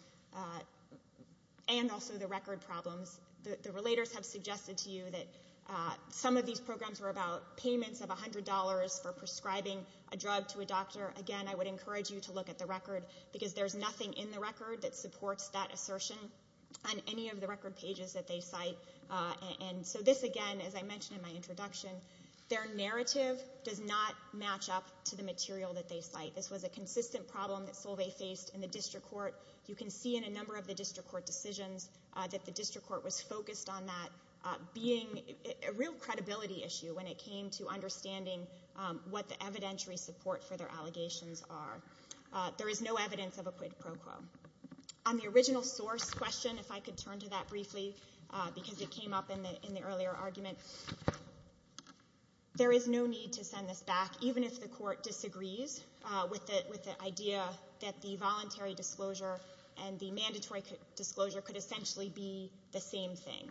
and also the record problems, the relators have suggested to you that some of these programs were about payments of $100 for prescribing a drug to a doctor. Again, I would encourage you to look at the record, because there's nothing in the record that supports that assertion on any of the record pages that they cite. And so this, again, as I mentioned in my introduction, their narrative does not match up to the material that they cite. This was a consistent problem that Solvay faced in the district court. You can see in a number of the district court decisions that the district court was focused on that being a real credibility issue when it came to understanding what the evidentiary support for their allegations are. There is no evidence of a quid pro quo. On the original source question, if I could turn to that briefly, because it came up in the earlier argument, there is no need to send this back, even if the court disagrees with the idea that the voluntary disclosure and the mandatory disclosure could essentially be the same thing.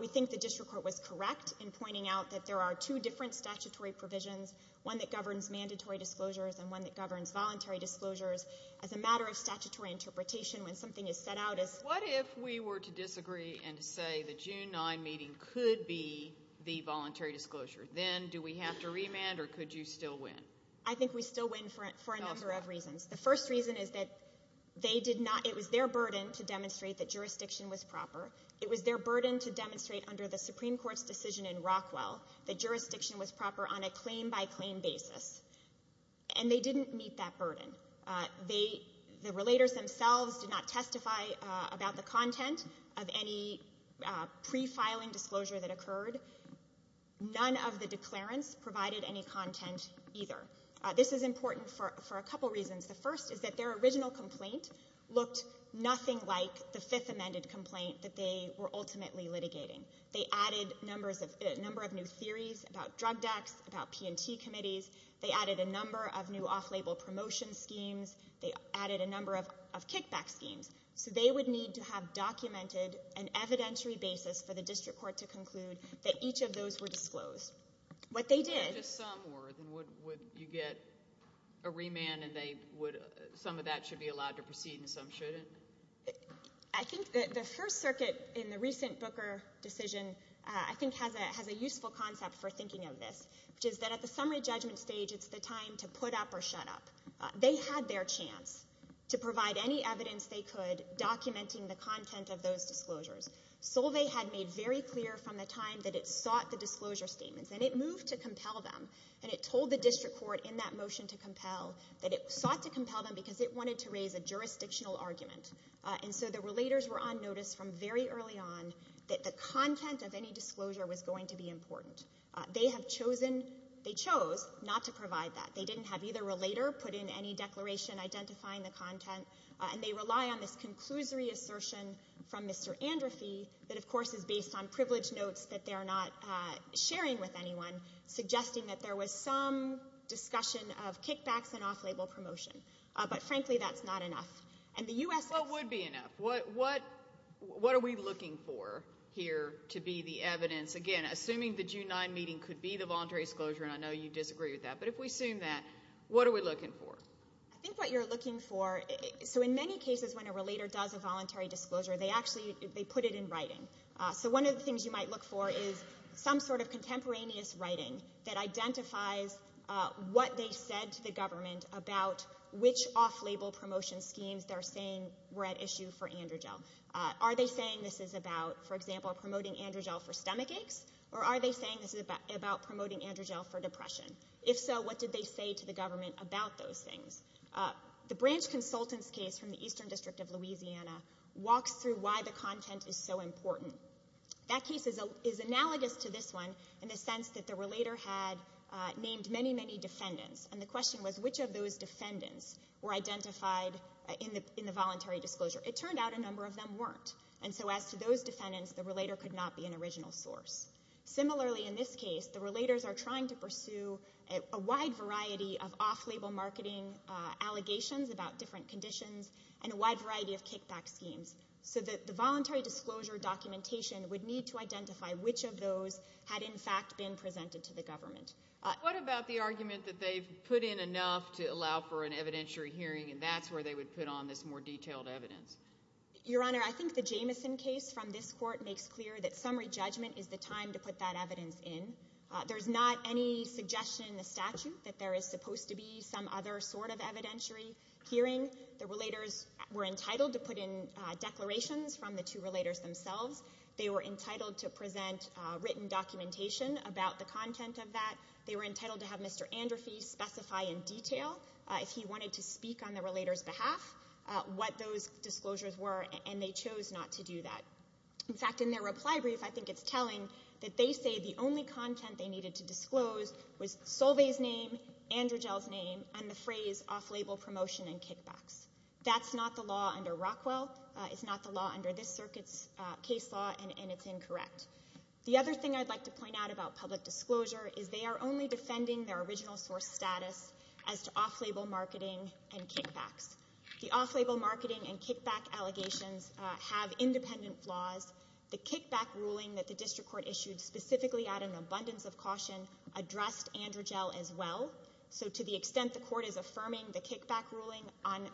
We think the district court was correct in pointing out that there are two different statutory provisions, one that governs mandatory disclosures and one that governs voluntary disclosures. As a matter of statutory interpretation, when something is set out as- What if we were to disagree and say the June 9 meeting could be the voluntary disclosure? Then do we have to remand or could you still win? I think we still win for a number of reasons. The first reason is that they did not-it was their burden to demonstrate that jurisdiction was proper. It was their burden to demonstrate under the Supreme Court's decision in Rockwell that jurisdiction was proper on a claim-by-claim basis. And they didn't meet that burden. The relators themselves did not testify about the content of any pre-filing disclosure that occurred. None of the declarants provided any content either. This is important for a couple reasons. The first is that their original complaint looked nothing like the fifth amended complaint that they were ultimately litigating. They added a number of new theories about drug dex, about P&T committees. They added a number of new off-label promotion schemes. They added a number of kickback schemes. So they would need to have documented an evidentiary basis for the district court to conclude that each of those were disclosed. What they did- If just some were, then would you get a remand and some of that should be allowed to proceed and some shouldn't? I think the First Circuit, in the recent Booker decision, I think has a useful concept for thinking of this, which is that at the summary judgment stage, it's the time to put up or shut up. They had their chance to provide any evidence they could, documenting the content of those disclosures. Solve had made very clear from the time that it sought the disclosure statements. And it moved to compel them. And it told the district court in that motion to compel that it sought to compel them because it wanted to raise a jurisdictional argument. And so the relators were on notice from very early on that the content of any disclosure was going to be important. They have chosen-they chose not to provide that. They didn't have either relator put in any declaration identifying the content. And they rely on this conclusory assertion from Mr. Androphy that, of course, is based on privilege notes that they are not sharing with anyone, suggesting that there was some discussion of kickbacks and off-label promotion. But, frankly, that's not enough. And the U.S.- What would be enough? What are we looking for here to be the evidence? Again, assuming the June 9 meeting could be the voluntary disclosure, and I know you disagree with that, but if we assume that, what are we looking for? I think what you're looking for-so in many cases when a relator does a voluntary disclosure, they actually-they put it in writing. So one of the things you might look for is some sort of contemporaneous writing that identifies what they said to the government about which off-label promotion schemes they're saying were at issue for Androgel. Are they saying this is about, for example, promoting Androgel for stomach aches? Or are they saying this is about promoting Androgel for depression? If so, what did they say to the government about those things? The branch consultant's case from the Eastern District of Louisiana walks through why the content is so important. That case is analogous to this one in the sense that the relator had named many, many defendants. And the question was, which of those defendants were identified in the voluntary disclosure? It turned out a number of them weren't. And so as to those defendants, the relator could not be an original source. Similarly, in this case, the relators are trying to pursue a wide variety of off-label marketing allegations about different conditions and a wide variety of kickback schemes. So the voluntary disclosure documentation would need to identify which of those had, in fact, been presented to the government. What about the argument that they've put in enough to allow for an evidentiary hearing, and that's where they would put on this more detailed evidence? Your Honor, I think the Jamison case from this court makes clear that summary judgment is the time to put that evidence in. There's not any suggestion in the statute that there is supposed to be some other sort of evidentiary hearing. The relators were entitled to put in declarations from the two relators themselves. They were entitled to present written documentation about the content of that. They were entitled to have Mr. Androphy specify in detail, if he wanted to speak on the relator's behalf, what those disclosures were, and they chose not to do that. In fact, in their reply brief, I think it's telling that they say the only content they needed to disclose was Solveig's name, Androgel's name, and the phrase off-label promotion and kickbacks. That's not the law under Rockwell. It's not the law under this circuit's case law, and it's incorrect. The other thing I'd like to point out about public disclosure is they are only defending their original source status as to off-label marketing and kickbacks. The off-label marketing and kickback allegations have independent flaws. The kickback ruling that the district court issued specifically out of an abundance of caution addressed Androgel as well. So to the extent the court is affirming the kickback ruling on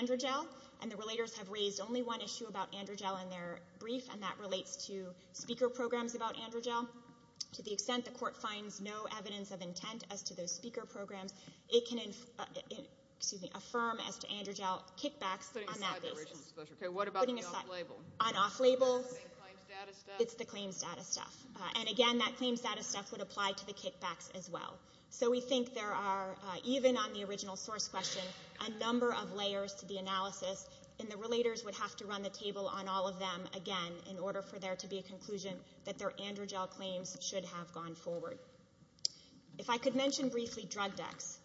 Androgel, and the relators have raised only one issue about Androgel in their brief, and that relates to speaker programs about Androgel, to the extent the court finds no evidence of intent as to those speaker programs, it can affirm as to Androgel kickbacks on that basis. Putting aside the original disclosure. Okay, what about the off-label? Putting aside. On off-label. It's the same claims data stuff. It's the claims data stuff. And again, that claims data stuff would apply to the kickbacks as well. So we think there are, even on the original source question, a number of layers to the analysis, and the relators would have to run the table on all of them again in order for there to be a conclusion that their Androgel claims should have gone forward. If I could mention briefly drug decks.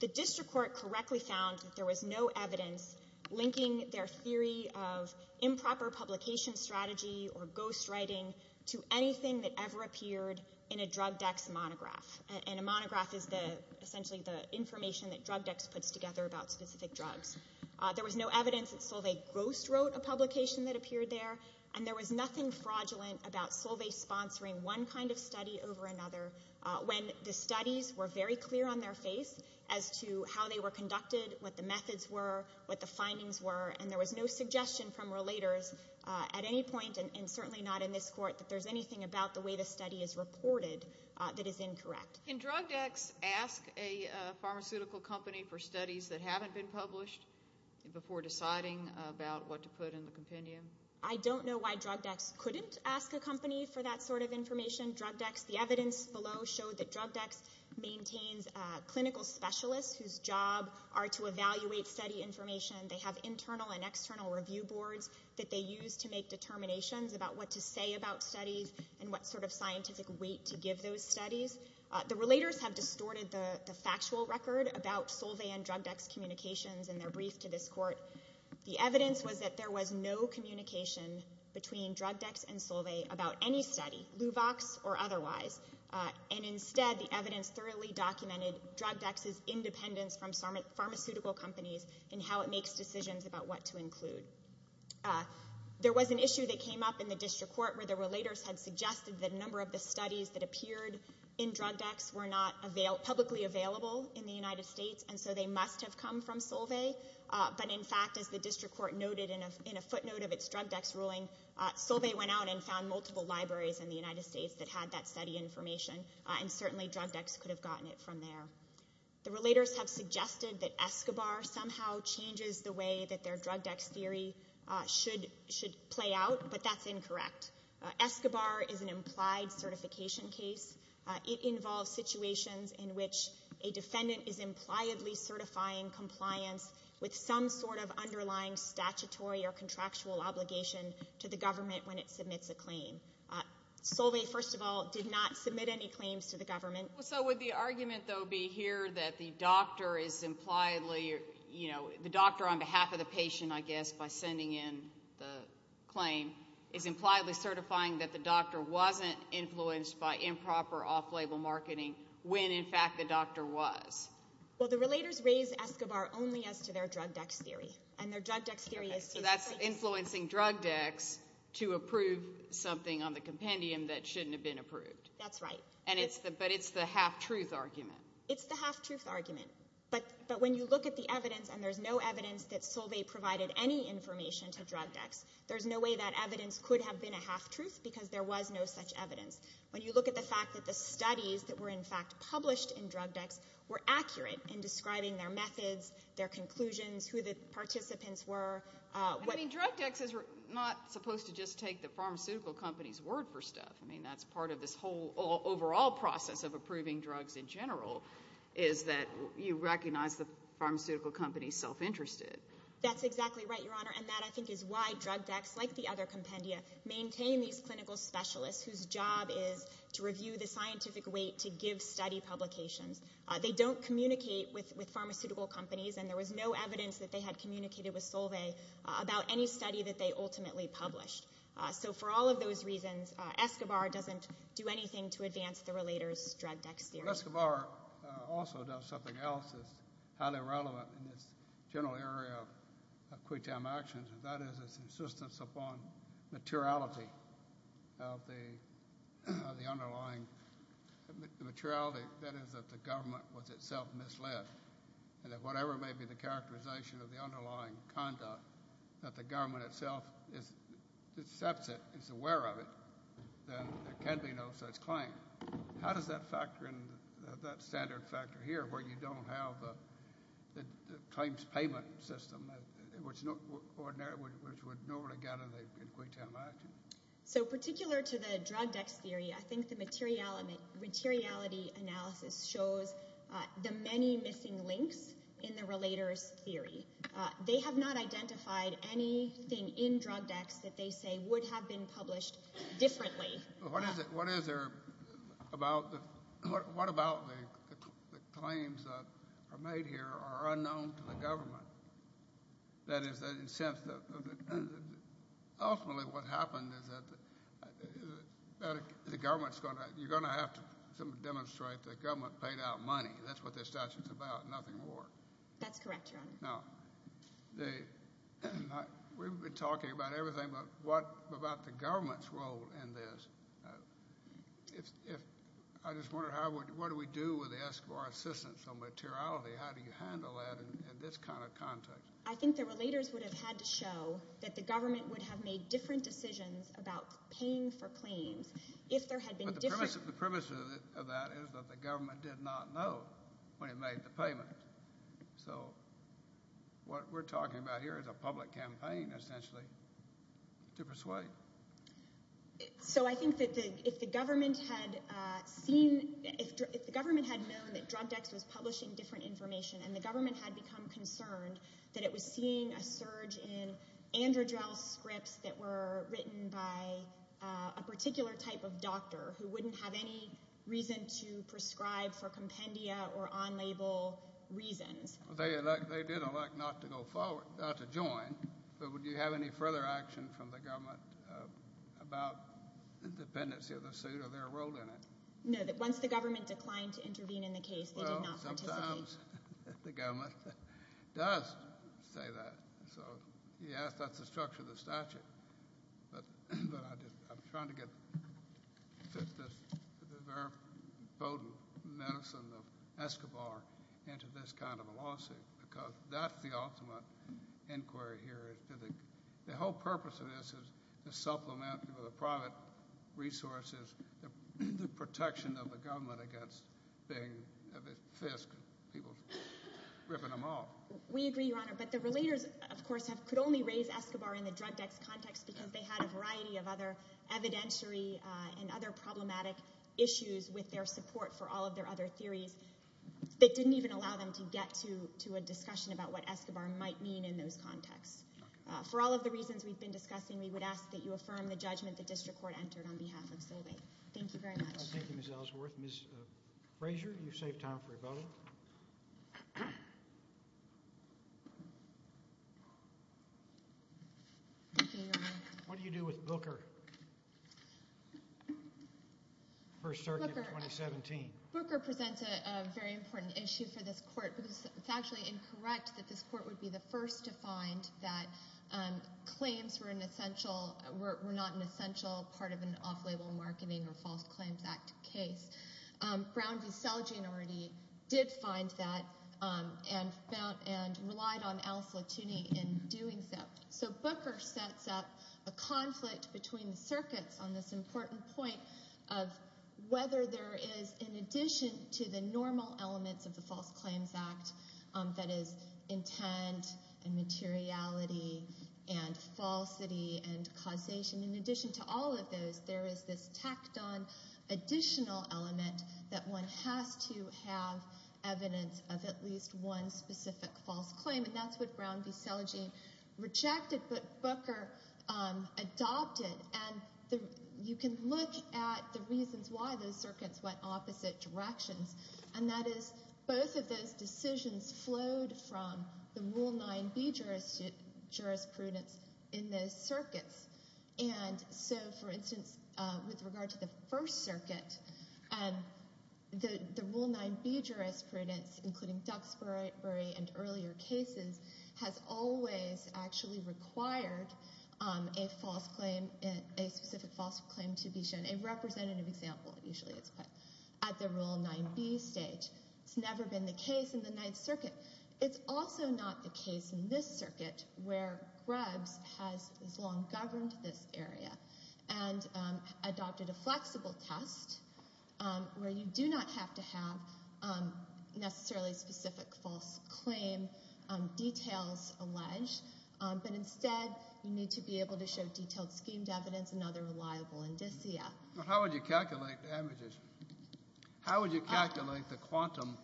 The district court correctly found that there was no evidence linking their theory of improper publication strategy or ghost writing to anything that ever appeared in a drug decks monograph. And a monograph is essentially the information that drug decks puts together about specific drugs. There was no evidence that Solveig Ghost wrote a publication that appeared there, and there was nothing fraudulent about Solveig sponsoring one kind of study over another when the studies were very clear on their face as to how they were conducted, what the methods were, what the findings were, and there was no suggestion from relators at any point, and certainly not in this court, that there's anything about the way the study is reported that is incorrect. Can drug decks ask a pharmaceutical company for studies that haven't been published before deciding about what to put in the compendium? I don't know why drug decks couldn't ask a company for that sort of information. Drug decks, the evidence below showed that drug decks maintains clinical specialists whose job are to evaluate study information. They have internal and external review boards that they use to make determinations about what to say about studies and what sort of scientific weight to give those studies. The relators have distorted the factual record about Solveig and drug decks communications in their brief to this court. The evidence was that there was no communication between drug decks and Solveig about any study, Luvox or otherwise, and instead the evidence thoroughly documented drug decks' independence from pharmaceutical companies and how it makes decisions about what to include. There was an issue that came up in the district court where the relators had suggested that a number of the studies that appeared in drug decks were not publicly available in the United States, and so they must have come from Solveig, but in fact, as the district court noted in a footnote of its drug decks ruling, Solveig went out and found multiple libraries in the United States that had that study information, and certainly drug decks could have gotten it from there. The relators have suggested that Escobar somehow changes the way that their drug decks theory should play out, but that's incorrect. Escobar is an implied certification case. It involves situations in which a defendant is impliedly certifying compliance with some sort of underlying statutory or contractual obligation to the government when it submits a claim. Solveig, first of all, did not submit any claims to the government. So would the argument, though, be here that the doctor is impliedly, you know, the doctor on behalf of the patient, I guess, by sending in the claim, is impliedly certifying that the doctor wasn't influenced by improper off-label marketing when, in fact, the doctor was? Well, the relators raised Escobar only as to their drug decks theory, and their drug decks theory is to... So that's influencing drug decks to approve something on the compendium that shouldn't have been approved. That's right. But it's the half-truth argument. It's the half-truth argument. But when you look at the evidence, and there's no evidence that Solveig provided any information to drug decks, there's no way that evidence could have been a half-truth because there was no such evidence. When you look at the fact that the studies that were, in fact, published in drug decks were accurate in describing their methods, their conclusions, who the participants were... I mean, drug decks is not supposed to just take the pharmaceutical company's word for stuff. I mean, that's part of this whole overall process of approving drugs in general is that you recognize the pharmaceutical company's self-interest. That's exactly right, Your Honor, and that, I think, is why drug decks, like the other compendia, maintain these clinical specialists whose job is to review the scientific weight to give study publications. They don't communicate with pharmaceutical companies, and there was no evidence that they had communicated with Solveig about any study that they ultimately published. So for all of those reasons, Escobar doesn't do anything to advance the relator's drug decks theory. Escobar also does something else that's highly relevant in this general area of quick-time actions, and that is his insistence upon materiality of the underlying materiality, that is, that the government was itself misled, and that whatever may be the characterization of the underlying conduct, that the government itself accepts it, is aware of it, then there can be no such claim. How does that factor in, that standard factor here, where you don't have the claims payment system, which would normally get in the quick-time action? So particular to the drug decks theory, I think the materiality analysis shows the many missing links in the relator's theory. They have not identified anything in drug decks that they say would have been published differently. What about the claims that are made here are unknown to the government? That is, in a sense, ultimately what happened is that the government is going to have to demonstrate that the government paid out money. That's what this statute is about, nothing more. That's correct, Your Honor. Now, we've been talking about everything, but what about the government's role in this? I just wonder what do we do with the eschewar insistence on materiality? How do you handle that in this kind of context? I think the relators would have had to show that the government would have made different decisions about paying for claims if there had been different— The premise of that is that the government did not know when it made the payment. So what we're talking about here is a public campaign, essentially, to persuade. So I think that if the government had known that drug decks was publishing different information and the government had become concerned that it was seeing a surge in AndroGel scripts that were written by a particular type of doctor who wouldn't have any reason to prescribe for compendia or on-label reasons— They did elect not to go forward, not to join, but would you have any further action from the government about the dependency of the suit or their role in it? No, that once the government declined to intervene in the case, they did not participate. The government does say that. So, yes, that's the structure of the statute. But I'm trying to get the very potent medicine of Escobar into this kind of a lawsuit because that's the ultimate inquiry here. The whole purpose of this is to supplement with private resources the protection of the government against being a fisk and people ripping them off. We agree, Your Honor. But the relators, of course, could only raise Escobar in the drug decks context because they had a variety of other evidentiary and other problematic issues with their support for all of their other theories that didn't even allow them to get to a discussion about what Escobar might mean in those contexts. For all of the reasons we've been discussing, we would ask that you affirm the judgment the district court entered on behalf of Solvay. Thank you very much. Thank you, Ms. Ellsworth. Ms. Frazier, you've saved time for a vote. Thank you, Your Honor. What do you do with Booker? First Circuit of 2017. Booker presents a very important issue for this court. It's actually incorrect that this court would be the first to find that claims were not an essential part of an off-label marketing or False Claims Act case. Brown v. Selgin already did find that and relied on Al Flatouni in doing so. So Booker sets up a conflict between the circuits on this important point of whether there is, in addition to the normal elements of the False Claims Act, that is, intent and materiality and falsity and causation, in addition to all of those, there is this tacked-on additional element that one has to have evidence of at least one specific False Claim. And that's what Brown v. Selgin rejected, but Booker adopted. And you can look at the reasons why those circuits went opposite directions, and that is both of those decisions flowed from the Rule 9b jurisprudence in those circuits. And so, for instance, with regard to the First Circuit, the Rule 9b jurisprudence, including Duxbury and earlier cases, has always actually required a specific False Claim to be shown, a representative example usually is put at the Rule 9b stage. It's never been the case in the Ninth Circuit. It's also not the case in this circuit where Grubbs has long governed this area and adopted a flexible test where you do not have to have necessarily specific False Claim details alleged, but instead you need to be able to show detailed schemed evidence and other reliable indicia. Well, how would you calculate the averages? How would you calculate the quantum,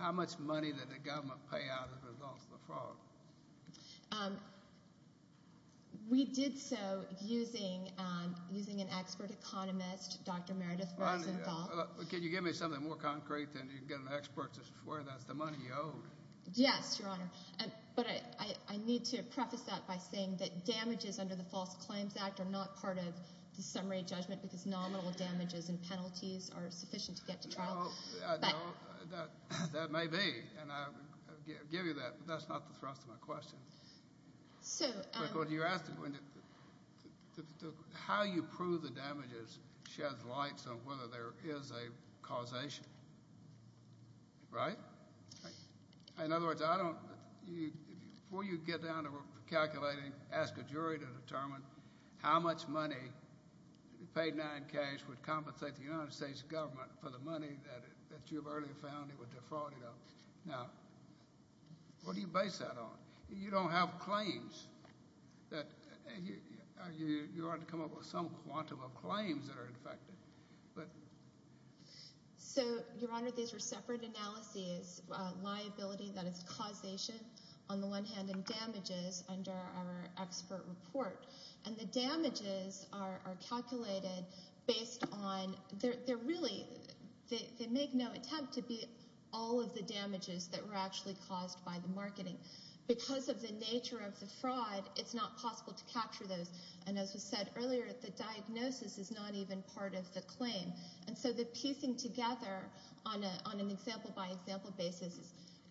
how much money did the government pay out as a result of the fraud? We did so using an expert economist, Dr. Meredith Rosenthal. Can you give me something more concrete than you can get an expert to swear that's the money you owe? Yes, Your Honor, but I need to preface that by saying that damages under the False Claims Act are not part of the summary judgment because nominal damages and penalties are sufficient to get to trial. That may be, and I'll give you that, but that's not the thrust of my question. You're asking how you prove the damages sheds light on whether there is a causation, right? In other words, before you get down to calculating, ask a jury to determine how much money paid in cash would compensate the United States government for the money that you have earlier found it was defrauded of. Now, what do you base that on? You don't have claims. You ought to come up with some quantum of claims that are infected. So, Your Honor, these are separate analyses. Liability, that is causation on the one hand, and damages under our expert report. And the damages are calculated based on – they're really – they make no attempt to be all of the damages that were actually caused by the marketing because of the nature of the fraud, it's not possible to capture those. And as was said earlier, the diagnosis is not even part of the claim. And so the piecing together on an example-by-example basis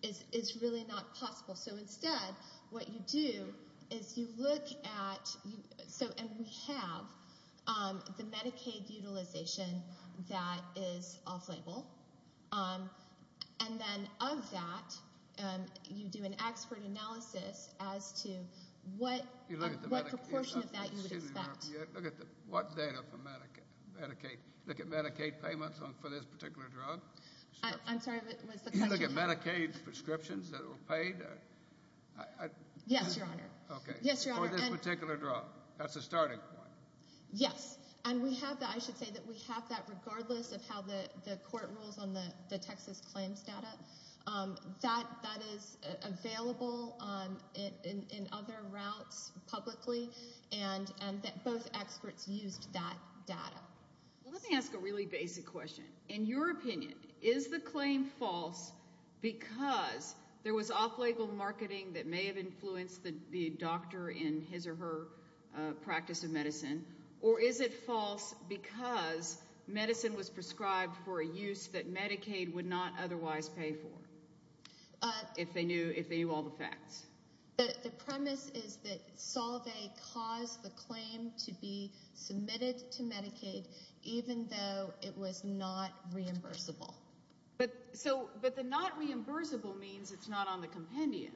is really not possible. So instead, what you do is you look at – and we have the Medicaid utilization that is off-label. And then of that, you do an expert analysis as to what proportion of that you would expect. You look at what data for Medicaid? You look at Medicaid payments for this particular drug? I'm sorry, what was the question? You look at Medicaid prescriptions that were paid? Yes, Your Honor. Okay. For this particular drug. That's a starting point. Yes. And we have the – I should say that we have that regardless of how the court rules on the Texas claims data. That is available in other routes publicly, and both experts used that data. Let me ask a really basic question. In your opinion, is the claim false because there was off-label marketing that may have influenced the doctor in his or her practice of medicine, or is it false because medicine was prescribed for a use that Medicaid would not otherwise pay for, if they knew all the facts? The premise is that Salve caused the claim to be submitted to Medicaid, even though it was not reimbursable. But the not reimbursable means it's not on the compendium.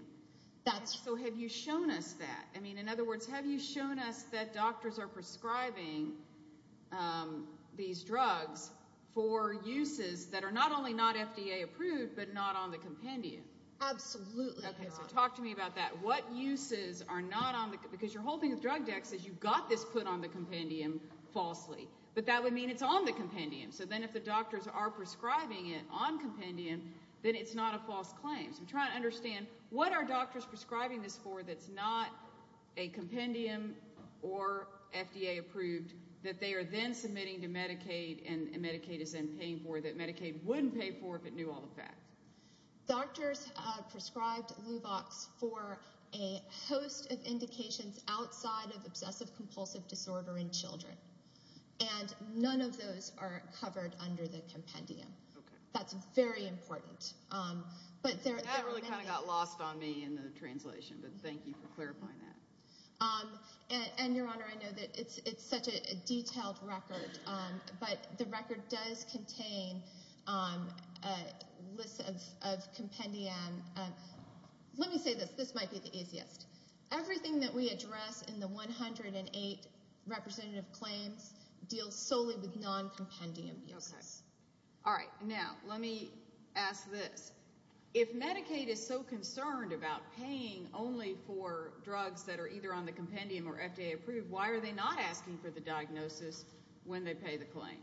That's right. So have you shown us that? I mean, in other words, have you shown us that doctors are prescribing these drugs for uses that are not only not FDA approved but not on the compendium? Absolutely, Your Honor. Okay. So talk to me about that. What uses are not on the – because your whole thing with drug dex is you got this put on the compendium falsely, but that would mean it's on the compendium. So then if the doctors are prescribing it on compendium, then it's not a false claim. So I'm trying to understand, what are doctors prescribing this for that's not a compendium or FDA approved that they are then submitting to Medicaid and Medicaid is then paying for that Medicaid wouldn't pay for if it knew all the facts? Doctors prescribed Luvox for a host of indications outside of obsessive-compulsive disorder in children, and none of those are covered under the compendium. That's very important. That really kind of got lost on me in the translation, but thank you for clarifying that. And, Your Honor, I know that it's such a detailed record, but the record does contain lists of compendium. Let me say this. This might be the easiest. Everything that we address in the 108 representative claims deals solely with non-compendium uses. Okay. All right. Now let me ask this. If Medicaid is so concerned about paying only for drugs that are either on the compendium or FDA approved, why are they not asking for the diagnosis when they pay the claim?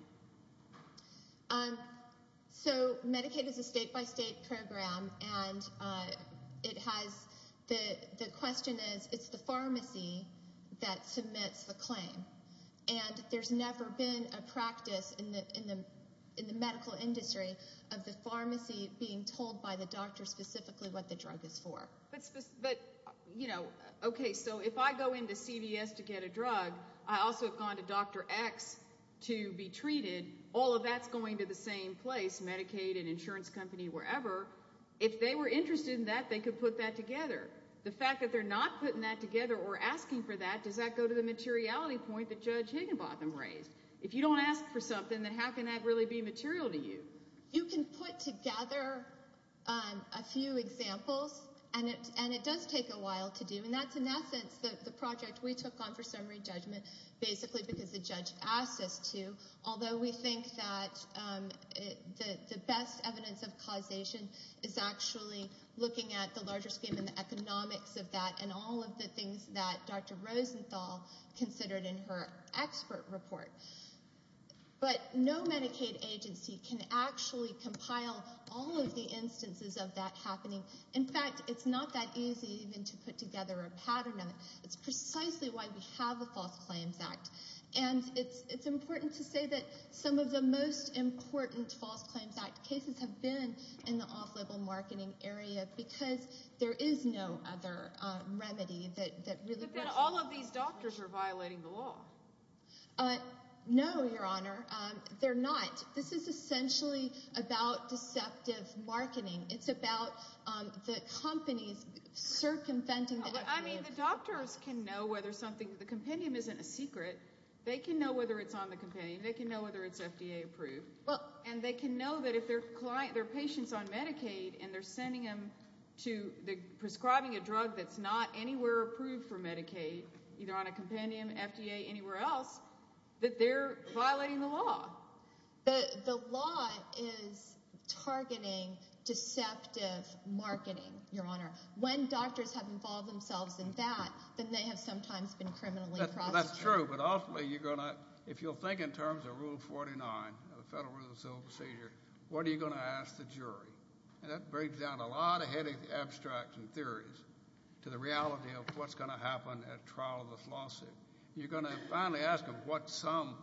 So Medicaid is a state-by-state program, and the question is, it's the pharmacy that submits the claim. And there's never been a practice in the medical industry of the pharmacy being told by the doctor specifically what the drug is for. But, you know, okay, so if I go into CVS to get a drug, I also have gone to Dr. X to be treated, all of that's going to the same place, Medicaid, an insurance company, wherever. If they were interested in that, they could put that together. The fact that they're not putting that together or asking for that, does that go to the materiality point that Judge Higginbotham raised? If you don't ask for something, then how can that really be material to you? You can put together a few examples, and it does take a while to do. And that's, in essence, the project we took on for summary judgment basically because the judge asked us to, although we think that the best evidence of causation is actually looking at the larger scheme and the economics of that and all of the things that Dr. Rosenthal considered in her expert report. But no Medicaid agency can actually compile all of the instances of that happening. In fact, it's not that easy even to put together a pattern on it. It's precisely why we have the False Claims Act. And it's important to say that some of the most important False Claims Act cases have been in the off-label marketing area because there is no other remedy that really works. But then all of these doctors are violating the law. No, Your Honor, they're not. This is essentially about deceptive marketing. It's about the companies circumventing the— I mean, the doctors can know whether something—the compendium isn't a secret. They can know whether it's on the compendium. They can know whether it's FDA-approved. And they can know that if their patient's on Medicaid and they're sending them to—they're prescribing a drug that's not anywhere approved for Medicaid, either on a compendium, FDA, anywhere else, that they're violating the law. The law is targeting deceptive marketing, Your Honor. When doctors have involved themselves in that, then they have sometimes been criminally prosecuted. That's true, but ultimately you're going to—if you'll think in terms of Rule 49 of the Federal Rules of Civil Procedure, what are you going to ask the jury? And that brings down a lot of abstract and theories to the reality of what's going to happen at trial of this lawsuit. You're going to finally ask them what sum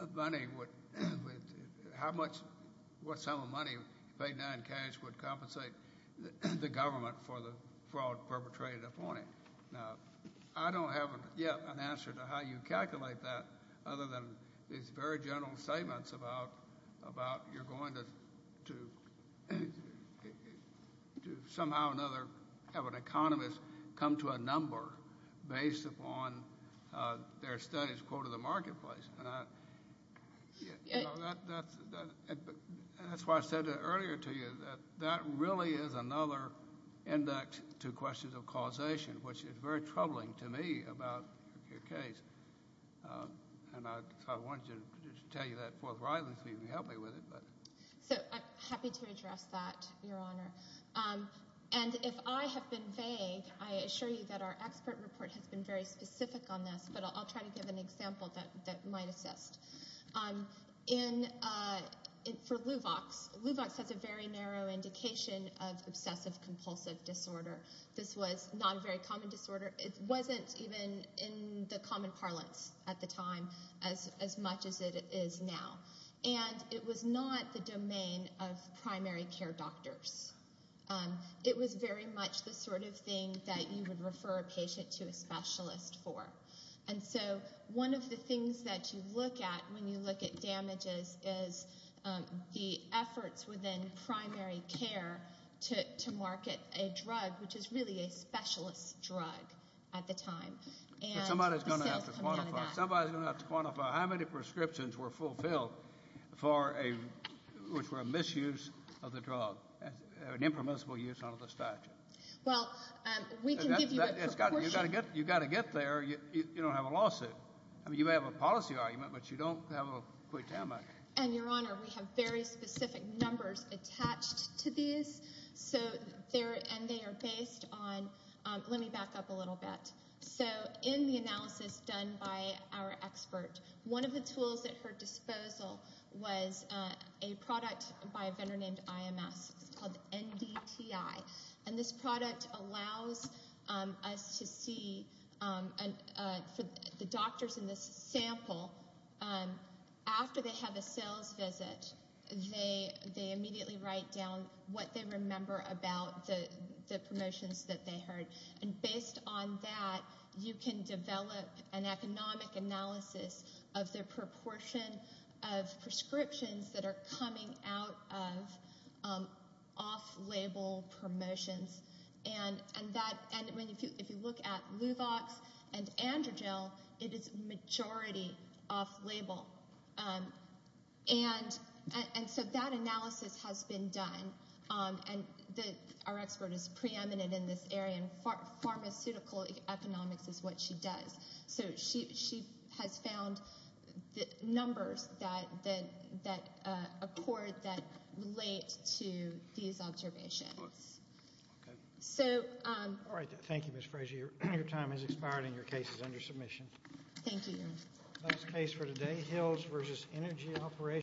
of money would—how much—what sum of money, paid in cash, would compensate the government for the fraud perpetrated upon it. Now, I don't have yet an answer to how you calculate that other than these very general statements about you're going to somehow or another have an economist come to a number based upon their study's quote of the marketplace. That's why I said earlier to you that that really is another index to questions of causation, which is very troubling to me about your case. And I wanted to tell you that forthrightly so you can help me with it. So I'm happy to address that, Your Honor. And if I have been vague, I assure you that our expert report has been very specific on this, but I'll try to give an example that might assist. For LUVOX, LUVOX has a very narrow indication of obsessive-compulsive disorder. This was not a very common disorder. It wasn't even in the common parlance at the time as much as it is now. And it was not the domain of primary care doctors. It was very much the sort of thing that you would refer a patient to a specialist for. And so one of the things that you look at when you look at damages is the efforts within primary care to market a drug, which is really a specialist drug at the time. Somebody's going to have to quantify how many prescriptions were fulfilled for a misuse of the drug, an impermissible use under the statute. Well, we can give you a proportion. You've got to get there. You don't have a lawsuit. I mean, you may have a policy argument, but you don't have a quick timeout. And, Your Honor, we have very specific numbers attached to these, and they are based on – let me back up a little bit. So in the analysis done by our expert, one of the tools at her disposal was a product by a vendor named IMS. It's called NDTI. And this product allows us to see – for the doctors in this sample, after they have a sales visit, they immediately write down what they remember about the promotions that they heard. And based on that, you can develop an economic analysis of the proportion of prescriptions that are coming out of off-label promotions. And if you look at Luvox and Androgel, it is majority off-label. And so that analysis has been done. And our expert is preeminent in this area, and pharmaceutical economics is what she does. So she has found numbers that accord – that relate to these observations. So – All right. Thank you, Ms. Fraser. Your time has expired, and your case is under submission. Thank you. That's the case for today. Hills v. Energy Operations.